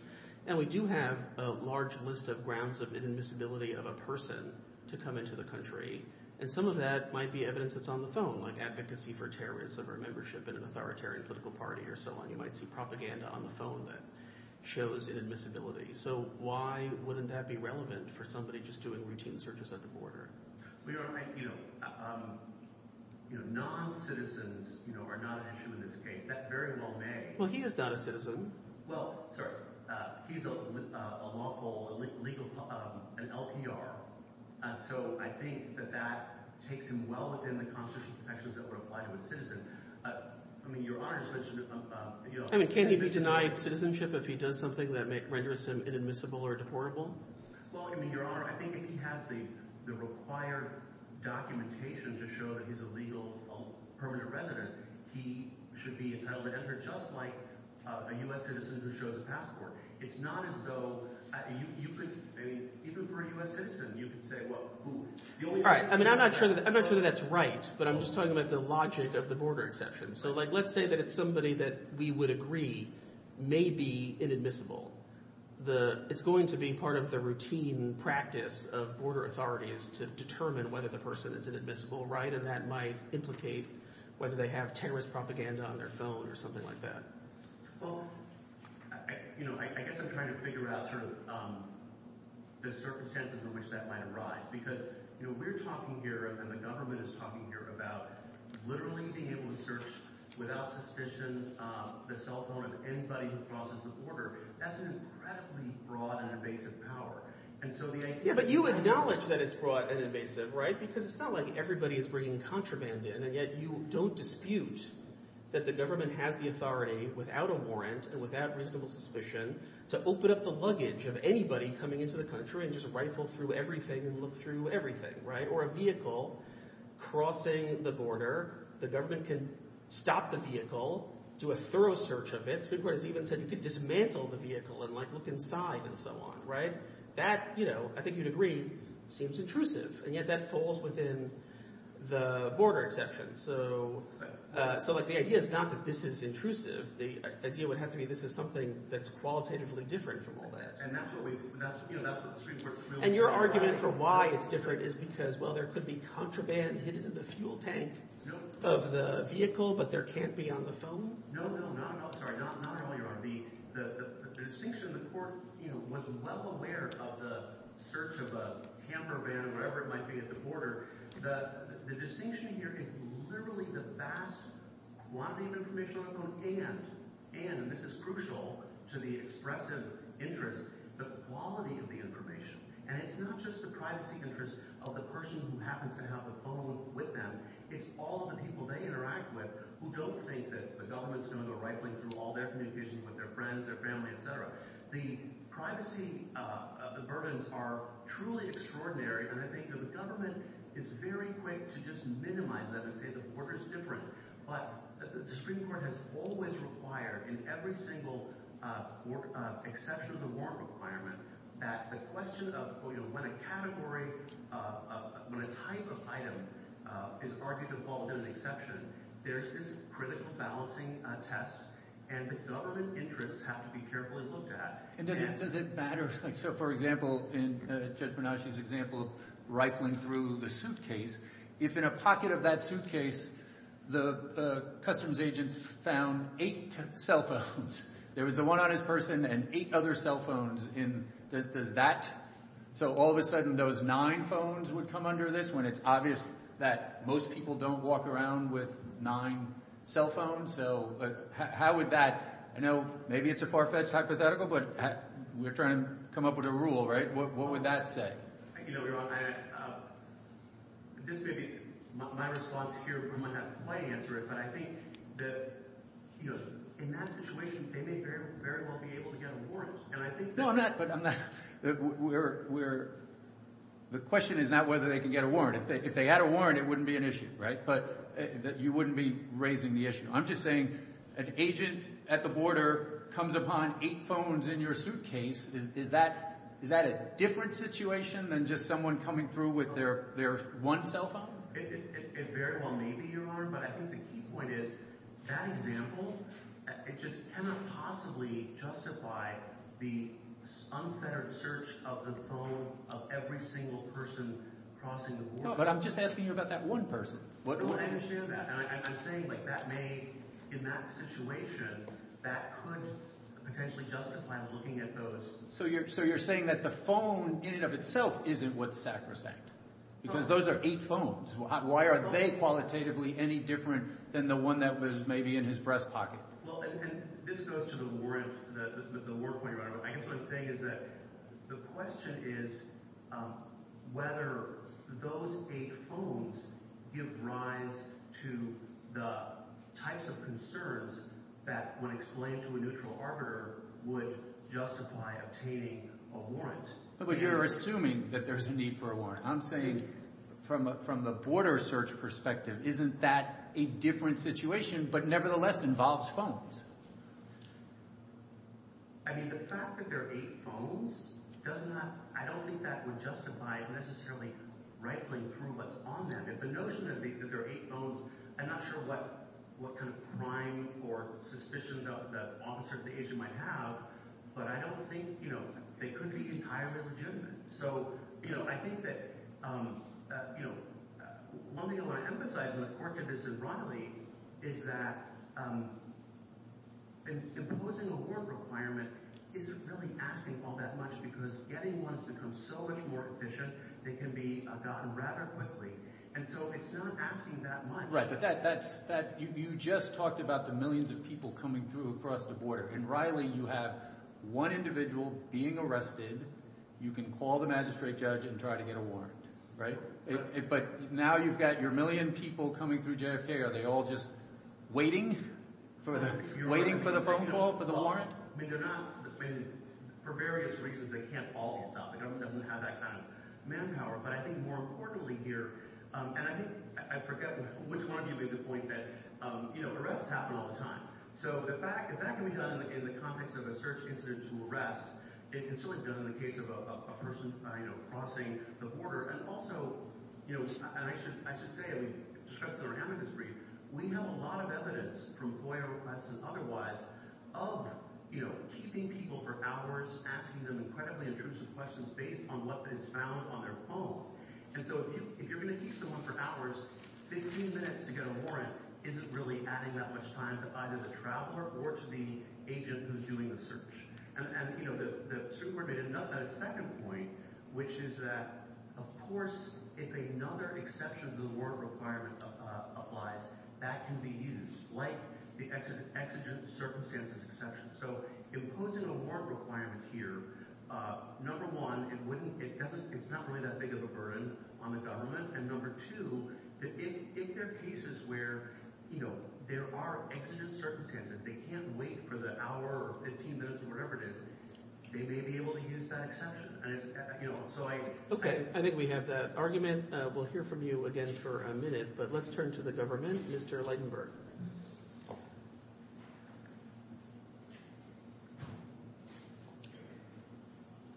And we do have a large list of grounds of inadmissibility of a person to come into the country, and some of that might be evidence that's on the phone, like advocacy for terrorism or membership in an authoritarian political party or so on. You might see propaganda on the phone that shows inadmissibility. So why wouldn't that be relevant for somebody just doing routine searches at the border? Well, you know, non-citizens are not an issue in this case. That very well may be. Well, he is not a citizen. Well, sir, he's a lawful, a legal, an LPR. So I think that that takes him well within the constitutional protections that were applied to a citizen. I mean, Your Honor, it's such a... I mean, can't he be denied citizenship if he does something that may render him inadmissible or deportable? Well, I mean, Your Honor, I think if he has the required documentation to show that he's a legal permanent resident, he should be entitled to enter, just like a U.S. citizen who shows a passport. It's not as though... I mean, even for a U.S. citizen, you could say, well, who... All right. I mean, I'm not sure that that's right, but I'm just talking about the logic of the border exception. So, like, let's say that it's somebody that we would agree may be inadmissible. It's going to be part of the routine practice of border authorities to determine whether the person is inadmissible, right? And that might implicate whether they have terrorist propaganda on their phone or something like that. Well, you know, I guess I'm trying to figure out sort of the circumstances in which that might arise. Because, you know, we're talking here and the government is talking here about literally being able to search without suspicion the cell phone of anybody who crosses the border. That's an incredibly broad and invasive power. And so the... Yeah, but you acknowledge that it's broad and invasive, right? Because it's not like everybody is bringing contraband in, and yet you don't dispute that the government has the authority, without a warrant and without reasonable suspicion, to open up the luggage of anybody coming into the country and just rifle through everything and look through everything, right? Or a vehicle crossing the border. The government can stop the vehicle, do a thorough search of it. It's a good point. It's even said you can dismantle the vehicle and look inside and so on, right? That, you know, I think you'd agree, seems intrusive. And yet that falls within the border exception. So the idea is not that this is intrusive. The idea would have to be this is something that's qualitatively different from all that. And that's what we... And your argument for why it's different is because, well, there could be contraband hidden in the fuel tank of the vehicle, but there can't be on the phone? No, no, no. I'm sorry. Not at all, Your Honor. The distinction, the court, you know, was well aware of the search of a camper van, whatever it might be, at the border. The distinction here is literally the vast volume of information on hand, and this is crucial to the expressive interest, the quality of the information. And it's not just the privacy interest of the person who happens to have the phone with them. It's all the people they interact with who don't think that the government's going to go right through all their communications with their friends, their family, et cetera. The privacy burdens are truly extraordinary, and I think that the government is very quick to just minimize that and say the border's different. But the Supreme Court has always required in every single exception of the warrant requirement that the question of, you know, when a category, when a type of item is argued to fall under the exception, there's this critical balancing test, and the government interests have to be carefully looked at. And does it matter? Like, so, for example, in Judge Menasseh's example, rifling through the suitcase, if in a pocket of that suitcase, the customs agent found eight cell phones. There was the one on his person and eight other cell phones in that. So all of a sudden, those nine phones would come under this when it's obvious that most people don't walk around with nine cell phones. So how would that – I know maybe it's a far-fetched hypothetical, but we're trying to come up with a rule, right? What would that say? Thank you, everyone. I – this may be my response here, but we might have to wait and answer it. But I think that, you know, in that situation, they may very well be able to get a warrant. And I think – No, I'm not – I'm not – we're – the question is not whether they can get a If they had a warrant, it wouldn't be an issue, right? But you wouldn't be raising the issue. I'm just saying an agent at the border comes upon eight phones in your suitcase. Is that a different situation than just someone coming through with their one cell phone? It very well may be, Your Honor, but I think the key point is that example, it just cannot possibly justify the uncluttered search of the phone of every single person crossing the border. No, but I'm just asking you about that one person. I'm just saying, like, that may – in that situation, that could potentially justify looking at those – So you're saying that the phone in and of itself isn't what's sacrosanct? Because those are eight phones. Why are they qualitatively any different than the one that was maybe in his breast pocket? Well, and this goes to the warrant – the warrant point, Your Honor. I guess what I'm saying is that the question is whether those eight phones give rise to the types of concerns that, when explained to a neutral arbiter, would justify obtaining a warrant. But you're assuming that there's a need for a warrant. I'm saying, from the border search perspective, isn't that a different situation, but nevertheless involves phones? I mean, the fact that there are eight phones does not – I don't think that would justify unnecessarily rightfully proving what's on them. If the notion is that there are eight phones, I'm not sure what kind of crime or suspicions that officers of the agent might have, but I don't think – you know, they could be entirely legitimate. So, you know, I think that, you know, one thing I want to emphasize in this court case with Riley is that imposing a warrant requirement isn't really asking all that much because getting one can become so much more efficient, it can be gotten rather quickly. And so it's not asking that much. Right, but that – you just talked about the millions of people coming through across the border. In Riley, you have one individual being arrested. You can call the magistrate judge and try to get a warrant, right? But now you've got your million people coming through JFK. Are they all just waiting for the phone call for the warrant? I mean, they're not – for various reasons, they can't all be stopped. The government doesn't have that kind of manpower. But I think more importantly here – and I think – I forget which one of you made the point that, you know, arrests happen all the time. So the fact – if that can be done in the context of a search instance arrest, it can certainly be done in the case of a person, you know, crossing the border. And also, you know, and I should say, I mean, to strengthen our evidence brief, we know a lot of evidence from FOIA requests and otherwise of, you know, keeping people for hours, asking them incredibly intrusive questions based on what is found on their phone. And so if you're going to keep someone for hours, 15 minutes to get a warrant isn't really adding that much time to either the traveler or to the agent who's doing the search. And, you know, the super did another second point, which is that, of course, if another exception to the warrant requirement applies, that can be used, like the exigent circumstances exception. So imposing a warrant requirement here, number one, it doesn't – it's not really that of a burden on the government. And number two, if there are cases where, you know, there are exigent circumstances, they can't wait for the hour or 15 minutes or whatever it is, they may be able to use that exception. And it's – you know, so I – Okay. I think we have that argument. We'll hear from you again for a minute. But let's turn to the government. Mr. Lightenberg.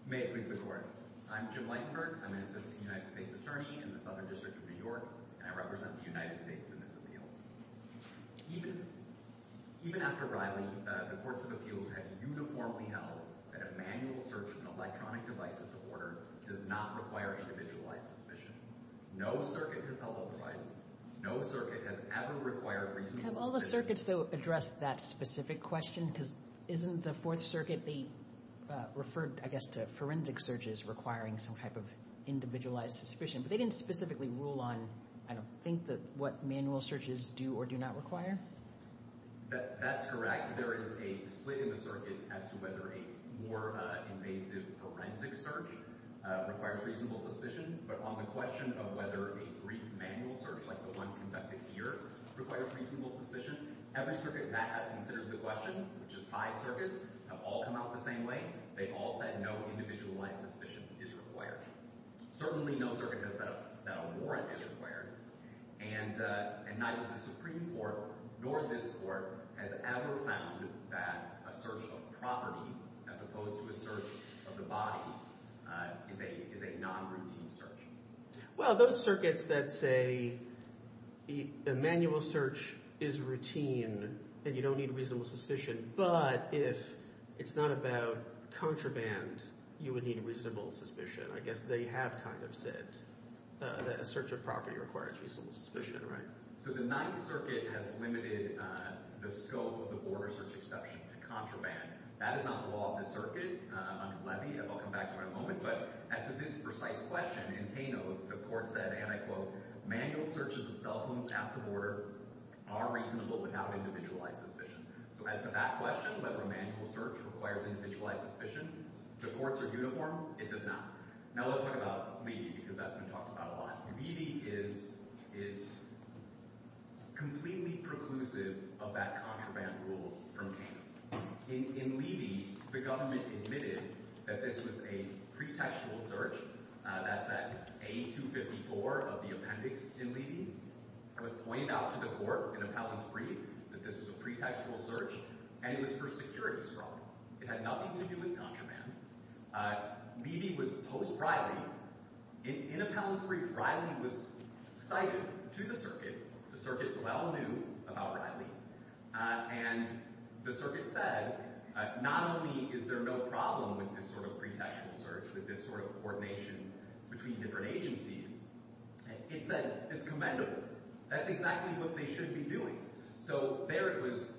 May I speak before I – I'm Jim Lightenberg. I'm an assistant United States attorney in the Southern District of New York. I represent the United States in this appeal. Even after Riley's report, the appeal has uniformly held that an annual search of an electronic device with a warrant does not require any visual identification. No circuit has ever required – Have all the circuits, though, addressed that specific question? Because isn't the Fourth Circuit the – referred, I guess, to forensic searches requiring some type of individualized suspicion? But they didn't specifically rule on, I don't think, what manual searches do or do not require? That's correct. There is a split in the circuit as to whether a more invasive forensic search requires reasonable suspicion. But on the question of whether a brief manual search like the one conducted here requires reasonable suspicion, every circuit that has considered the question, which is five circuits, have all come out the same way. They all said no individualized suspicion is required. Certainly no circuit has said a warrant is required. And neither the Supreme Court nor this Court has ever found that a search of a property as opposed to a search of the body is a non-routine search. Well, those circuits that say the manual search is routine and you don't need reasonable suspicion, but if it's not about contraband, you would need reasonable suspicion. I guess they have kind of said that a search of property requires reasonable suspicion, right? So the Ninth Circuit has limited the scope of the border search exception to contraband. That is not the law of the circuit. Let me – I'll come back to it in a moment. But as to this precise question, in Hano, the Court said, and I quote, Manual searches of self-own captive order are reasonable without individualized suspicion. So as to that question, whether a manual search requires individualized suspicion, the courts are uniform, it does not. Now let's talk about Levy because that's been talked about a lot. Levy is completely preclusive of that contraband rule for me. In Levy, the government admitted that this was a pretextual search, that that A254 of the appendix in Levy was pointed out to the court in Appellant 3 that this was a pretextual search and it was for securities fraud. It had nothing to do with contraband. Levy was post-Riley. In Appellant 3, Riley was cited to the circuit. The circuit well knew about Riley. And the circuit said, not only is there no problem with this sort of pretextual search, with this sort of coordination between different agencies, it says it's commendable. That's exactly what they should be doing. So there it was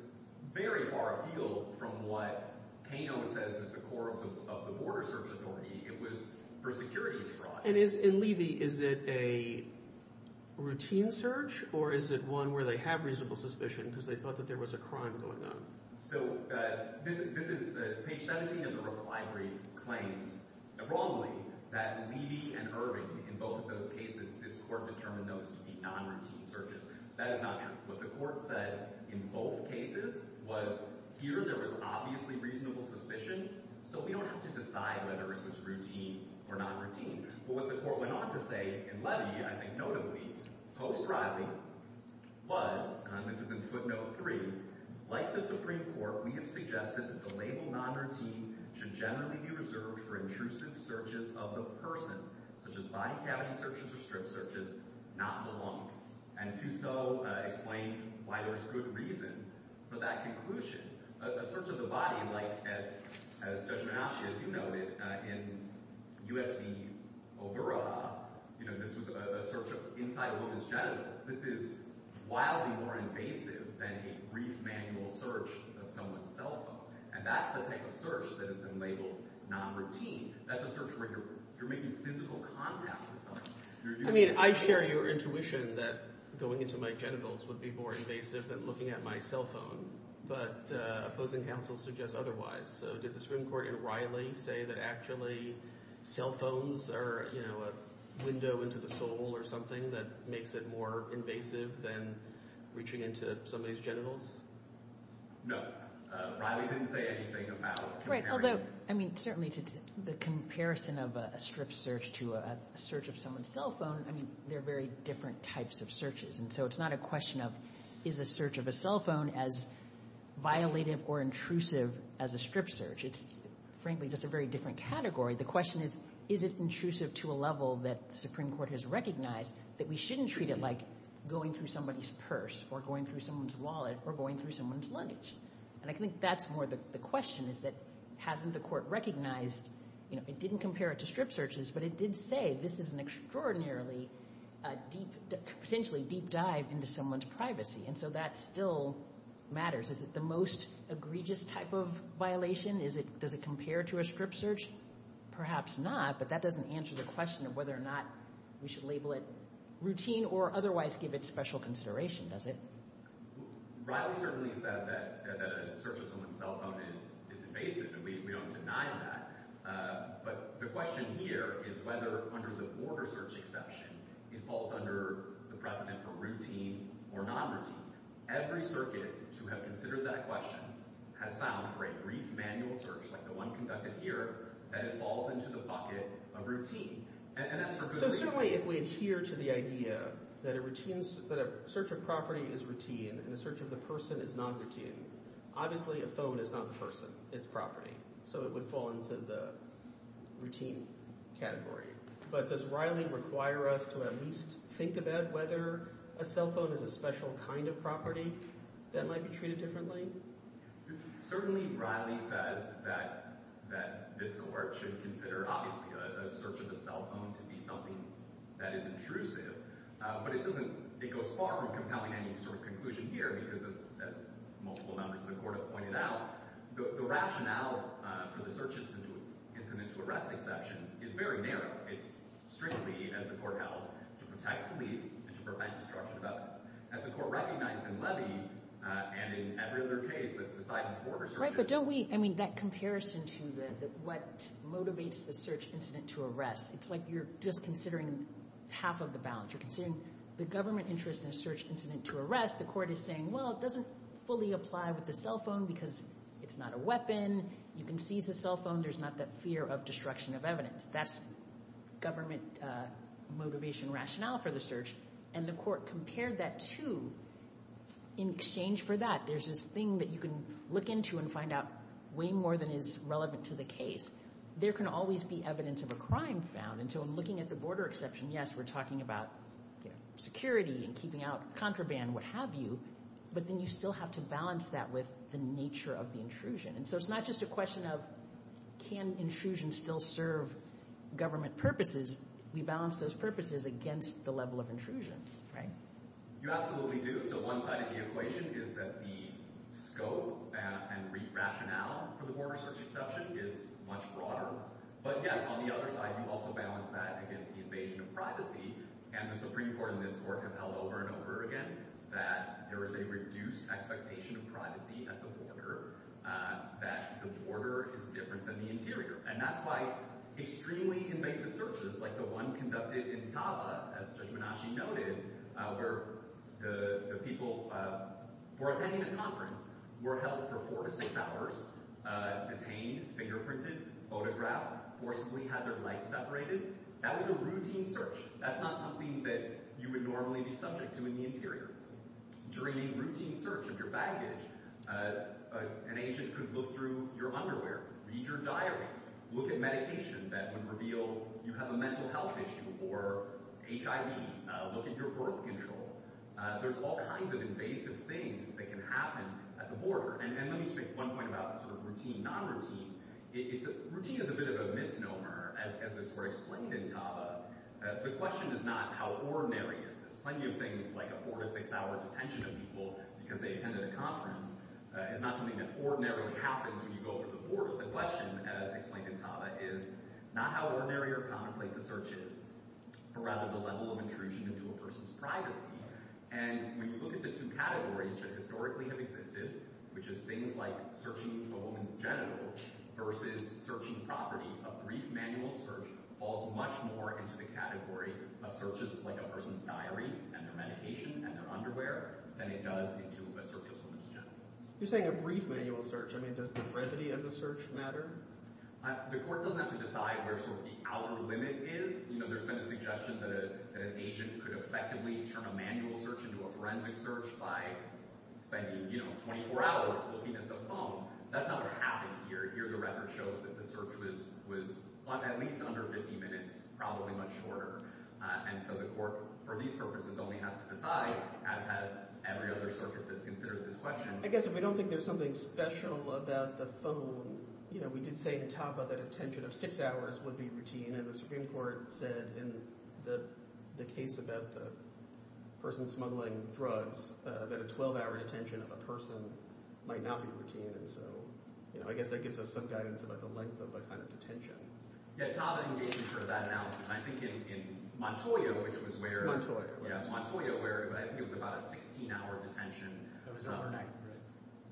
very far afield from what Hano says is the core of the border search authority. It was for securities fraud. And in Levy, is it a routine search or is it one where they have reasonable suspicion because they thought that there was a crime going on? So this is page 17 of the Ripple Library claims. Abroadly, that Levy and Irving, in both of those cases, this court determined those to be non-routine searches. That is not true. What the court said in both cases was here there was obviously reasonable suspicion, so we don't have to decide whether this is routine or not routine. But what the court went on to say in Levy, I think notably, post-Riley, was, and this is in footnote three, like the Supreme Court, we have suggested that the label non-routine should generally be reserved for intrusive searches of the person, such as by-cabin searches or strip searches, not belonging, and do so explain why there's good reason for that conclusion. A search of the body, like as Judge Menachia, as you know, in U.S.C., this is a search of inside a woman's genitals. This is wildly more invasive than a brief manual search of someone's cell phone, and that's the type of search that has been labeled non-routine. That's a search where you're making physical contact with someone. I share your intuition that going into my genitals would be more invasive than looking at my cell phone, but opposing counsel suggests otherwise. So did the Supreme Court in Riley say that actually cell phones are, you know, a window into the soul or something that makes it more invasive than reaching into somebody's genitals? No. Riley didn't say anything about comparing. Right, although, I mean, certainly the comparison of a strip search to a search of someone's cell phone, I mean, they're very different types of searches, and so it's not a question of is a search of a cell phone as violative or intrusive as a strip search. It's frankly just a very different category. The question is is it intrusive to a level that the Supreme Court has recognized that we shouldn't treat it like going through somebody's purse or going through someone's wallet or going through someone's luggage. And I think that's more the question is that hasn't the court recognized, you know, it didn't compare it to strip searches, but it did say this is an extraordinarily deep, essentially deep dive into someone's privacy, and so that still matters. Is it the most egregious type of violation? Does it compare to a strip search? Perhaps not, but that doesn't answer the question of whether or not we should label it routine or otherwise give it special consideration, does it? Riley certainly said that a search of someone's cell phone is invasive, and we don't deny that, but the question here is whether, under the poor search exception, it falls under the presidential routine or not routine. Every circuit who has considered that question has found for a brief manual search like the one conducted here that it falls into the bucket of routine. So certainly if we adhere to the idea that a search of property is routine and a search of a person is non-routine, obviously a phone is not a person, it's property, so it would fall into the routine category. But does Riley require us to at least think about whether a cell phone is a special kind of property that might be treated differently? Certainly Riley said that the court should consider, obviously, a search of a cell phone to be something that is intrusive, but it goes far beyond having any sort of conclusion here because, as multiple members of the court have pointed out, the rationale for the search instance in this forensic section is very narrow. It's strange to me that the court held to protect the lease and to prevent the charge of theft. As the court recognized in Levy and in other cases, it's not important. Right, but don't we, I mean, that comparison to what motivates the search incident to arrest, it's like you're just considering half of the balance. You're considering the government interest in a search incident to arrest. The court is saying, well, it doesn't fully apply with a cell phone because it's not a weapon. You can see it's a cell phone. There's not that fear of destruction of evidence. That's government motivation rationale for the search, and the court compared that to, in exchange for that, there's this thing that you can look into and find out way more than is relevant to the case. There can always be evidence of a crime found, and so looking at the border exception, yes, we're talking about security and keeping out contraband, what have you, but then you still have to balance that with the nature of the intrusion, and so it's not just a question of can intrusion still serve government purposes. We balance those purposes against the level of intrusions, right? You absolutely do. So one side of the equation is that the scope and rationale for the border search exception is much broader, but, again, on the other side, you also balance that against evasion of privacy, and the Supreme Court in this court has held over and over again that there is a reduced expectation of privacy at the border, that the border is different than the interior, and that's why extremely invasive searches like the one conducted in Java, as Joshimanachi noted, where the people were attending a conference, were held for four to six hours, detained, fingerprinted, photographed, forcibly had their lights separated. That was a routine search. That's not something that you would normally be subject to in the interior. During a routine search of your baggage, an agent could look through your underwear, read your diary, look at medication that could reveal you have a mental health issue or HIV, look at your birth control. There's all kinds of invasive things that can happen at the border, and let me say one thing about routine non-resistance. Routine is a bit of a misnomer, as the court explained in Java. The question is not how ordinary it is. Plenty of things like a four to six-hour detention of people because they attended a conference is not something that ordinarily happens when you go to the border. The question, as explained in Java, is not how ordinary or commonplace the search is, but rather the level of intrusion into a person's privacy. And when you look at the two categories that historically have existed, which is things like searching a woman's genitals versus searching property, a brief manual search falls much more into the category of searches like a person's diary and their medication and their underwear than it does into a search. You're saying a brief manual search. I mean, does the brevity of the search matter? The court doesn't have to decide where sort of the outer limit is. You know, there's been suggestions that an agent could effectively turn a manual search into a forensic search by spending, you know, 24 hours looking at the phone. That's not what happens here. Here the record shows that the search was at least under 50 minutes, probably much shorter. And so the court, for these purposes, only has to decide, as every other service has considered this question. I guess if we don't think there's something special about the phone, you know, we could say on top of that a tension of six hours would be routine. And the Supreme Court said in the case about the person smuggling drugs that a 12-hour detention of a person might not be routine. And so, you know, I guess that gives us some guidance about the length of a kind of detention. Yeah, Tom, I can give you some of that analysis. I think in Montoya, which was where— Montoya. Yeah, Montoya, where I think it was about a 16-hour detention. So it was overnight.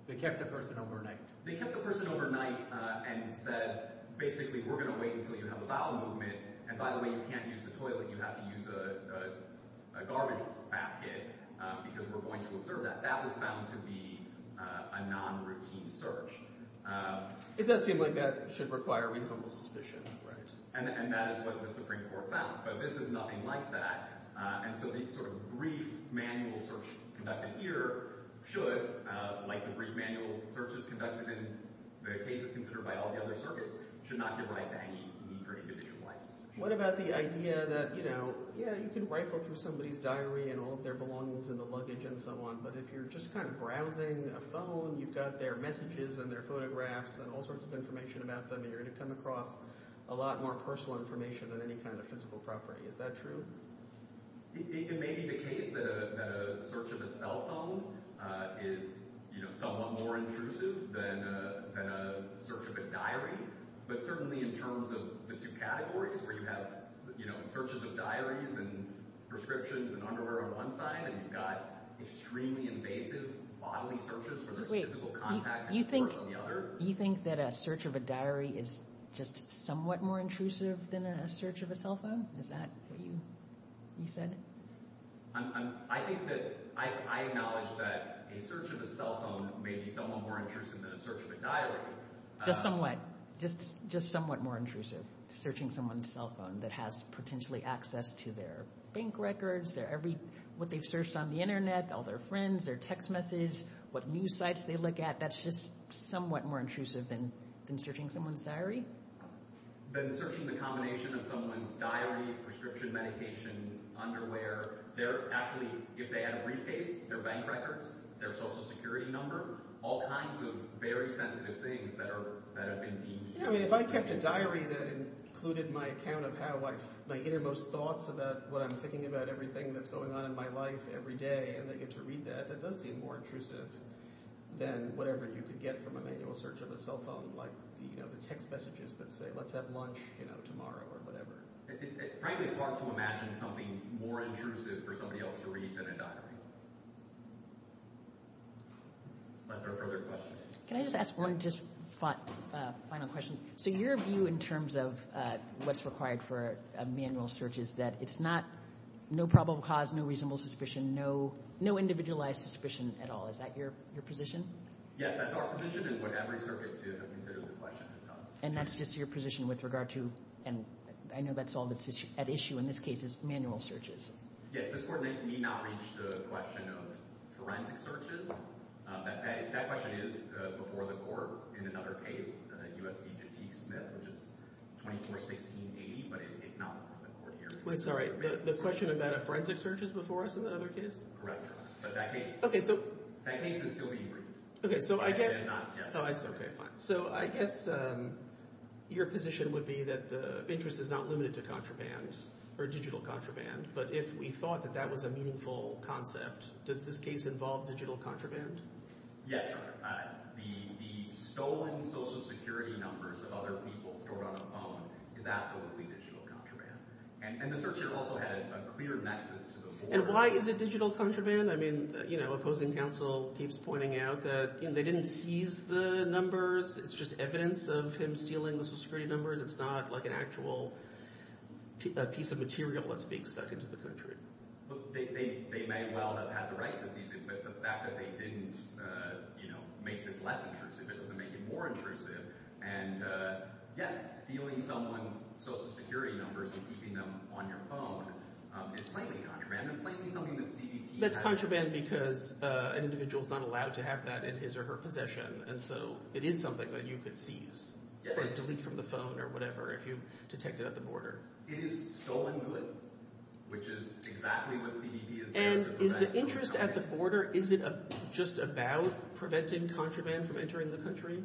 They kept the person overnight. They kept the person overnight and said, basically, we're going to wait until you have a vial movement. And by the way, you can't use the toilet. You have to use a garbage basket because we're going to observe that. That was found to be a non-routine search. It does seem like that should require reasonable suspicion, right? And that is what the Supreme Court found. So this is nothing like that until these sort of brief manual searches conducted here should, like the brief manual searches conducted in the case considered by all the other circuits, should not be what I think in the first position. What about the idea that, you know, yeah, you can rifle through somebody's diary and hold their belongings in the luggage and so on, but if you're just kind of browsing a phone, you've got their messages and their photographs and all sorts of information about them, and you're going to come across a lot more personal information than any kind of physical property. Is that true? It may be the case that a search of a cell phone is, you know, somewhat more intrusive than a search of a diary. But certainly in terms of the two categories where you have, you know, searches of diaries and prescriptions and underwear on one side and you've got extremely invasive bodily searches where there's physical contact on the other. You think that a search of a diary is just somewhat more intrusive than a search of a cell phone? Is that what you said? I think that I acknowledge that a search of a cell phone may be somewhat more intrusive than a search of a diary. Just somewhat, just somewhat more intrusive, searching someone's cell phone that has potentially access to their bank records, what they've searched on the Internet, all their friends, their text messages, what news sites they look at, that's just somewhat more intrusive than searching someone's diary. Then searching the combination of someone's diary, prescription medication, underwear, their actual, if they have a real estate, their bank records, their social security number, all kinds of very sensitive things that are being used. I mean, if I checked a diary that included my camera pad, my innermost thoughts about what I'm thinking about, everything that's going on in my life every day, and I get to read that, that does seem more intrusive than whatever you could get from a manual search of a cell phone, like the text messages that say, let's have lunch tomorrow or whatever. It's probably hard to imagine something more intrusive for somebody else to read than a diary. Are there further questions? Can I just ask one final question? So your view in terms of what's required for a manual search is that it's not no probable cause, no reasonable suspicion, no individualized suspicion at all. Is that your position? Yes, that's our position. It's what every circuit does if there's a question. And that's just your position with regard to, and I know that's all at issue in this case, is manual searches. Yes, this Court may not reach the question of forensic searches. That question is before the Court in another case, the U.S. B2B case, which is 24-16-80, but it did not come before here. I'm sorry, the question about a forensic search is before us in another case? Correct. But that case is still being reviewed. Okay, so I get it. So I guess your position would be that the interest is not limited to contraband or digital contraband, but if we thought that that was a meaningful concept, does this case involve digital contraband? Yes. The stolen Social Security numbers of other people stored on the phone is absolutely digital contraband. And the searcher also had a clear nexus before. And why is it digital contraband? I mean, you know, opposing counsel keeps pointing out that they didn't seize the numbers. It's just evidence of him stealing the Social Security numbers. It's not like an actual piece of material that's being stuck into the country. But they may well have had the right to seize it. But the fact that they didn't, you know, make this lesson, you know, typically makes it more intrusive. And yet stealing someone's Social Security numbers and keeping them on your phone is totally contraband. It's like stealing a DVD. That's contraband because an individual is not allowed to have that in his or her possession. And so it is something that you could seize, like delete from the phone or whatever if you detect it at the border. It is stolen goods, which is exactly what the DVD is. And is the interest at the border, is it just about preventing contraband from entering the country?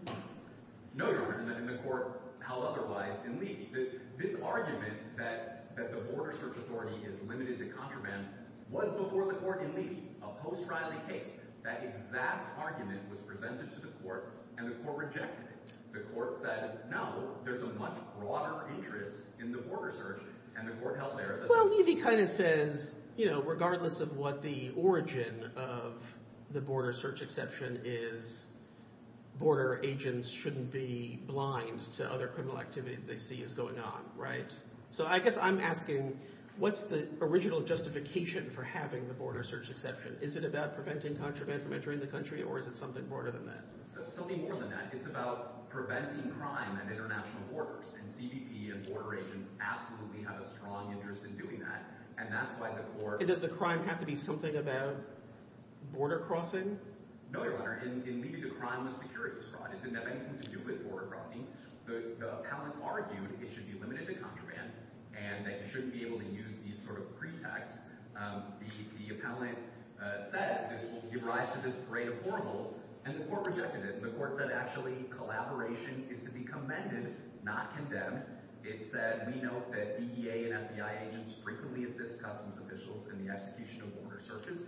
No, Your Honor. And the court, how otherwise, indeed. The big argument that the Border Search Authority is limited to contraband was before the court indeed. A post-trial case, that exact argument was presented to the court, and the court rejected it. The court said, no, there's a much broader interest in the border search. And the court held there that- Well, Levy kind of says, you know, regardless of what the origin of the border search exception is, border agents shouldn't be blind to other criminal activities they see as going on, right? So I guess I'm asking, what's the original justification for having the border search exception? Is it about preventing contraband from entering the country, or is it something broader than that? It's something more than that. It's about preventing crime at international borders. And CBP and border agents absolutely have a strong interest in doing that. And that's why the court- And does the crime have to be something about border crossing? No, Your Honor. Indeed, the crime was security-described. It didn't have anything to do with border crossing. The appellant argued it should be limited to contraband, and that you shouldn't be able to use these sort of pretexts. The appellant said that you rise to this parade of horribles, and the court rejected it. The court said, actually, collaboration is to be commended, not condemned. It said, we note that DEA and FBI agents frequently assist customs officials in the execution of border searches.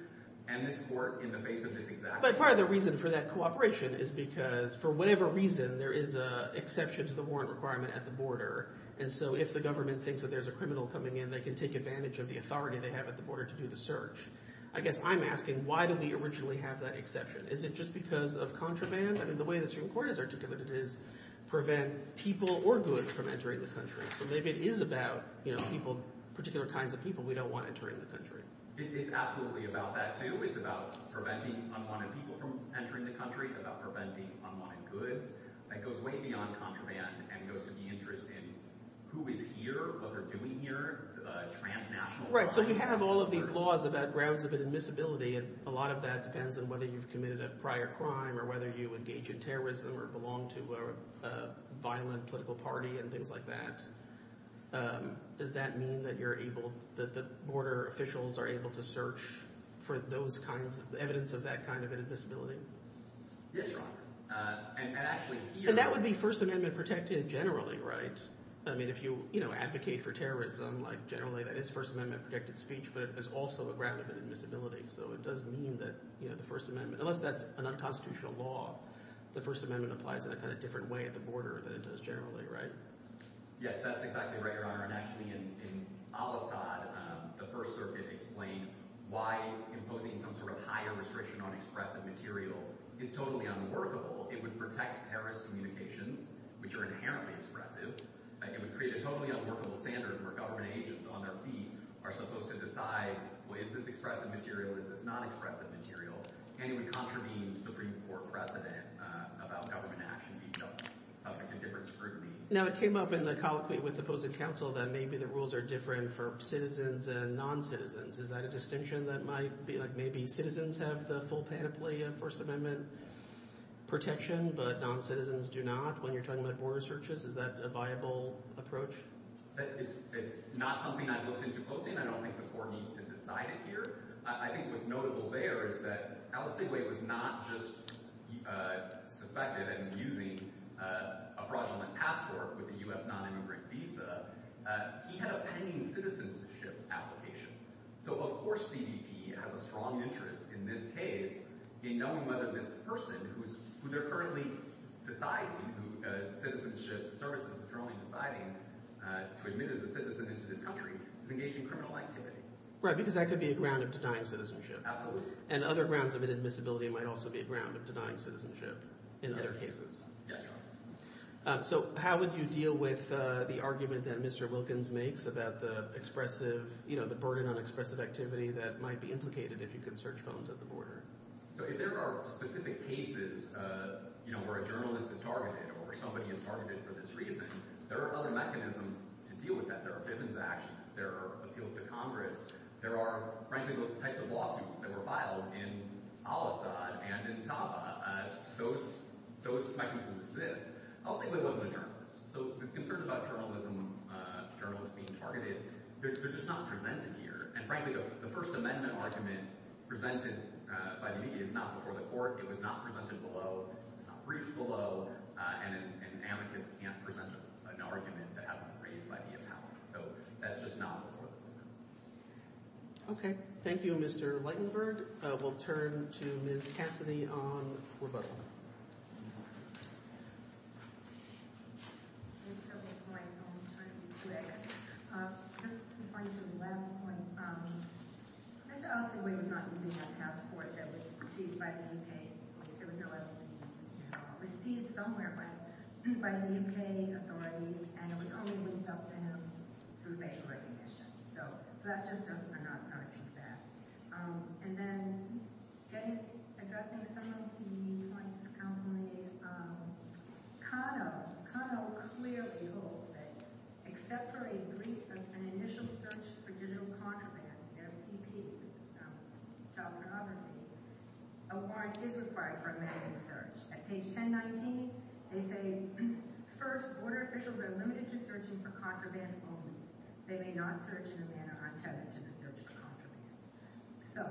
And this court, in the face of this exact- By far, the reason for that cooperation is because, for whatever reason, there is an exception to the warrant requirement at the border. And so if the government thinks that there's a criminal coming in, they can take advantage of the authority they have at the border to do the search. I guess I'm asking, why did we originally have that exception? Is it just because of contraband? I mean, the way the Supreme Court has articulated it is prevent people or goods from entering this country. So maybe it is about people, particular kinds of people we don't want entering this country. It is absolutely about that, too. It is about preventing people from entering this country. It is about preventing unlawful goods. It goes way beyond contraband. It goes in the interest of who is here, what they're doing here. Right, so you have all of these laws about grounds of admissibility. A lot of that depends on whether you've committed a prior crime or whether you engage in terrorism or belong to a violent political party and things like that. Does that mean that the border officials are able to search for evidence of that kind of admissibility? Yes, Your Honor. So that would be First Amendment protected generally, right? I mean, if you advocate for terrorism, generally that is First Amendment protected speech, but it is also a ground of admissibility. So it does mean that the First Amendment, unless that's an unconstitutional law, the First Amendment applies in a different way at the border than it does generally, right? Yes, that's exactly right, Your Honor. Actually, in Al-Assad, the First Circuit explained why imposing some sort of higher restriction on expressive material is totally unworkable. It would protect terrorist communications, which are inherently expressive. It would create a totally unworkable standard where government agents on their feet are supposed to decide, well, is this expressive material, is this non-expressive material? And it would contravene the Supreme Court precedent about government action. So it's a different scrutiny. Now, it came up in the colloquy with the opposing counsel that maybe the rules are different for citizens and non-citizens. Is that a distinction that might be like maybe citizens have the full panoply of First Amendment protection but non-citizens do not when you're talking about border searches? Is that a viable approach? It's not something I've looked into closely, and I don't think the court has decided here. I think what's notable there is that Al-Assad was not just suspected in using a fraudulent password with a U.S. non-immigrant visa. He had a pending citizenship application. So, of course, CBP has a strong interest in this case in knowing whether this person who they're currently deciding who the citizens should serve in the patrolling society or admitted as a citizen into the country is engaging in criminal activity. Right, because that could be a ground of denying citizenship. And other grounds of admissibility might also be a ground of denying citizenship in other cases. Yes. So how would you deal with the argument that Mr. Wilkins makes about the expressive, you know, the burden on expressive activity that might be implicated if you can search homes at the border? So if there are specific cases, you know, where a journalist is targeted or somebody is targeted for this reason, there are other mechanisms to deal with that. There are business actions. There are appeals to Congress. There are, frankly, those types of lawsuits that were filed in Al-Assad and in Saba. Those types of lawsuits exist. I'll take those up in a moment. So the concerns about journalists being targeted, they're just not presented here. And frankly, the First Amendment argument presented by the media is not before the court. It was not presented below. It was not briefed below. And an advocate can't present an argument that hasn't been briefed by the media. So that's just not before the court. Okay. Thank you, Mr. Lightenberg. We'll turn to Ms. Cassidy on the proposal. Thank you, Mr. Lightenberg. I'm going to turn to you today. Just to point you to the last point. It's also really not the legal task force that was perceived by the UK. It was perceived somewhere by the UK authorities, and it was only reached out to them through federal recognition. So that's just something I'm going to keep that. And then, as that's an essential key point to come from, is CONEL. CONEL clearly holds that except for a brief of an initial search for digital contraband, the OTP, that was covered, a warrant is required for a manual search. At page 1090, they say, first, order officials are limited to searching for contraband only. They may not search in a manner untested to search contraband. So,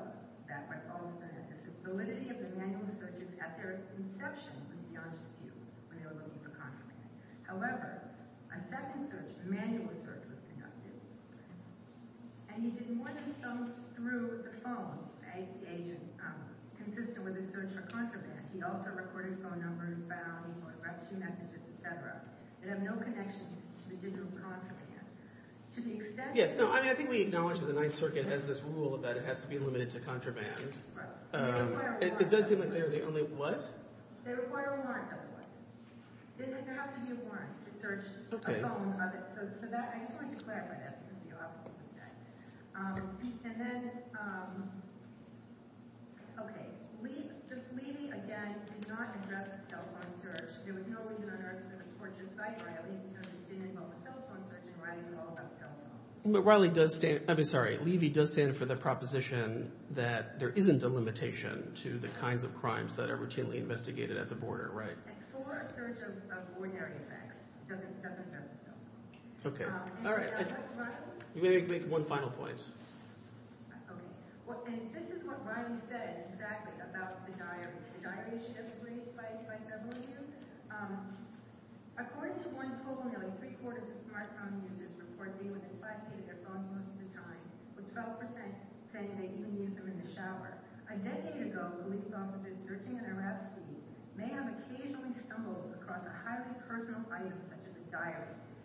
that's what CONEL says. The validity of the manual search is after its inception with the OTP, when it was used for contraband. However, a second search, a manual search, was conducted. And you didn't want to search through a phone, say, gauging consistent with a search for contraband. You know, if they're recording phone numbers, battling, or texting messages, et cetera. They have no connection to digital contraband. To the extent... Yeah, so I think we acknowledge that the 9th Circuit has this rule that it has to be limited to contraband. Right. It does say that they're the only what? They require a warrant, that's what. They said there has to be a warrant to search a phone. So that, I just want you to clarify that. And then... Okay. Levy, again, did not address telephone search. You know when you're in a search site, right? That means that you didn't involve telephone search. And why do you all have telephone? But Riley does say... I'm sorry. Levy does say for the proposition that there isn't a limitation to the kinds of crimes that are routinely investigated at the border. Right. Okay. Okay. All right. You're going to make one final point.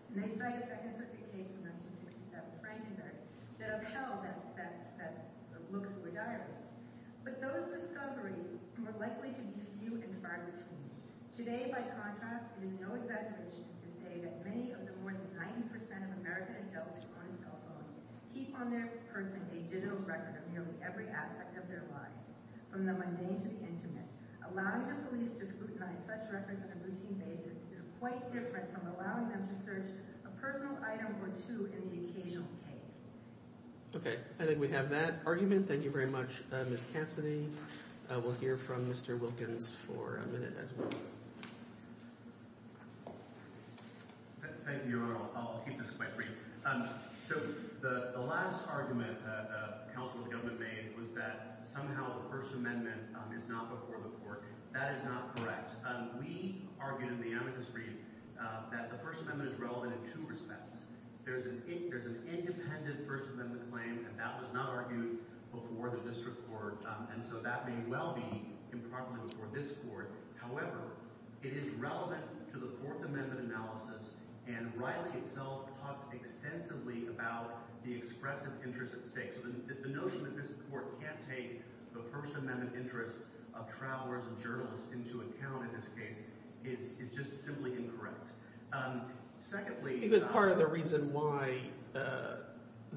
And I cite a second part of your case in the 667 frame tonight that I've shown that looks regarded. But those discoveries are more likely to be to you and far reaching. Today, by contrast, it is no exaggeration to say that many of the more than 90% of American adults on the telephone keep on their purse a digital record of nearly every aspect of their lives, from the mundane to the intimate, allowing them to please to scrutinize such records on a routine basis is quite different from allowing them to search a personal item or two in the occasional case. Okay, I think we have that argument. Thank you very much, Ms. Hanson. We'll hear from Mr. Wilkins for a minute as well. Thank you, Your Honor. I'll keep this quite brief. So the last argument that Counselor Gilman made was that somehow the First Amendment is not a court of court. That is not correct. We argue in the amicus brief that the First Amendment is relevant in two respects. There's an independent First Amendment claim, and that was not argued before the district court, and so that may well be in front of this court. However, it is relevant to the Fourth Amendment analysis, and rightly so talks extensively about the expressive interest at stake. So the notion that this court can't take the First Amendment interest of trial lawyers and journalists into account in this case is just simply incorrect. Secondly— I think that part of the reason why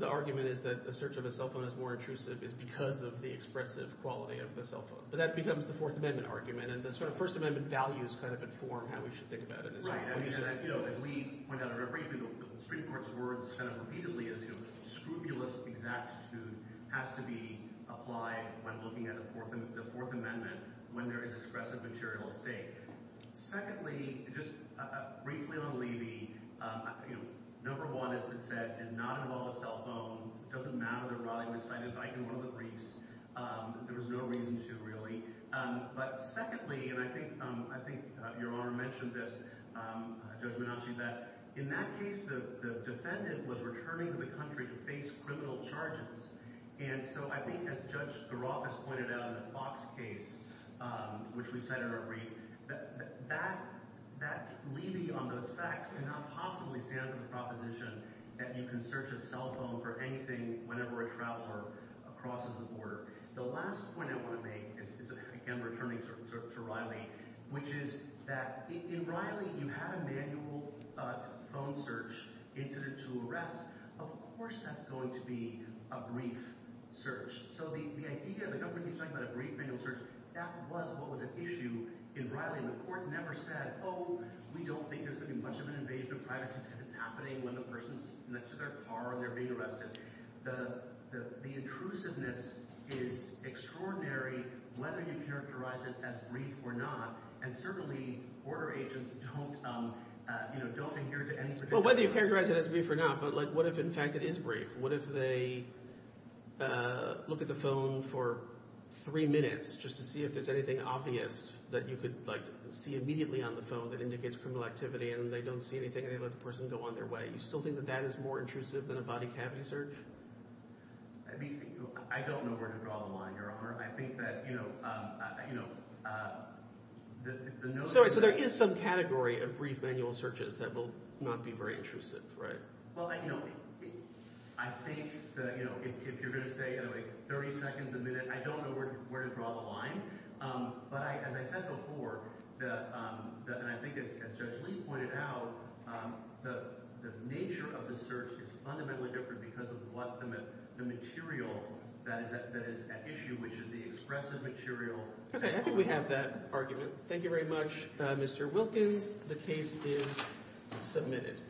the argument is that the search of a cell phone is more intrusive is because of the expressive quality of the cell phone, but that becomes the Fourth Amendment argument, and the sort of First Amendment values kind of inform how we should think about it. As we point out in our brief, the district court's words kind of repeatedly assume scrupulous exactitude has to be applied when looking at the Fourth Amendment when there is expressive material at stake. Secondly, just briefly on Levy, number one, as it said, is not involved with cell phones. It doesn't matter that Rodney decided to bike in one of the briefs. There was no reason to, really. But secondly, and I think your Honor mentioned this, Judge Minocci, that in that case, the defendant was returning to the country to face criminal charges. And so I think, as Judge Giroir has pointed out in the Fox case, which we said in our brief, that Levy on those facts cannot possibly stand the proposition that you can search a cell phone for anything whenever a trial lawyer crosses the border. The last point I want to make, and I'm returning to Riley, which is that in Riley, you have a manual phone search intended to arrest. Of course that's going to be a brief search. So the idea, the company was talking about a brief search. That was what was at issue in Riley. The court never said, oh, we don't think there's going to be much of an invasion of privacy happening when the person's next to their car and they're being arrested. The intrusiveness is extraordinary, whether you characterize it as brief or not, and certainly border agents don't adhere to any sort of— Well, whether you characterize it as brief or not, but what if, in fact, it is brief? What if they look at the phone for three minutes just to see if there's anything obvious that you could see immediately on the phone that indicates criminal activity, and they don't see anything, and they let the person go on their way? Do you still think that that is more intrusive than a body cavity search? I don't know where to draw the line, Your Honor. I think that, you know— So there is some category of brief manual searches that will not be very intrusive, right? Well, I think that, you know, if you're going to say 30 seconds, a minute, I don't know where to draw the line, but as I said before, and I think as Judge Lee pointed out, the nature of the search is fundamentally different because of the material that is at issue, which is the expressive material. Okay, I think we have that argument. Thank you very much, Mr. Wilkin. The case is submitted.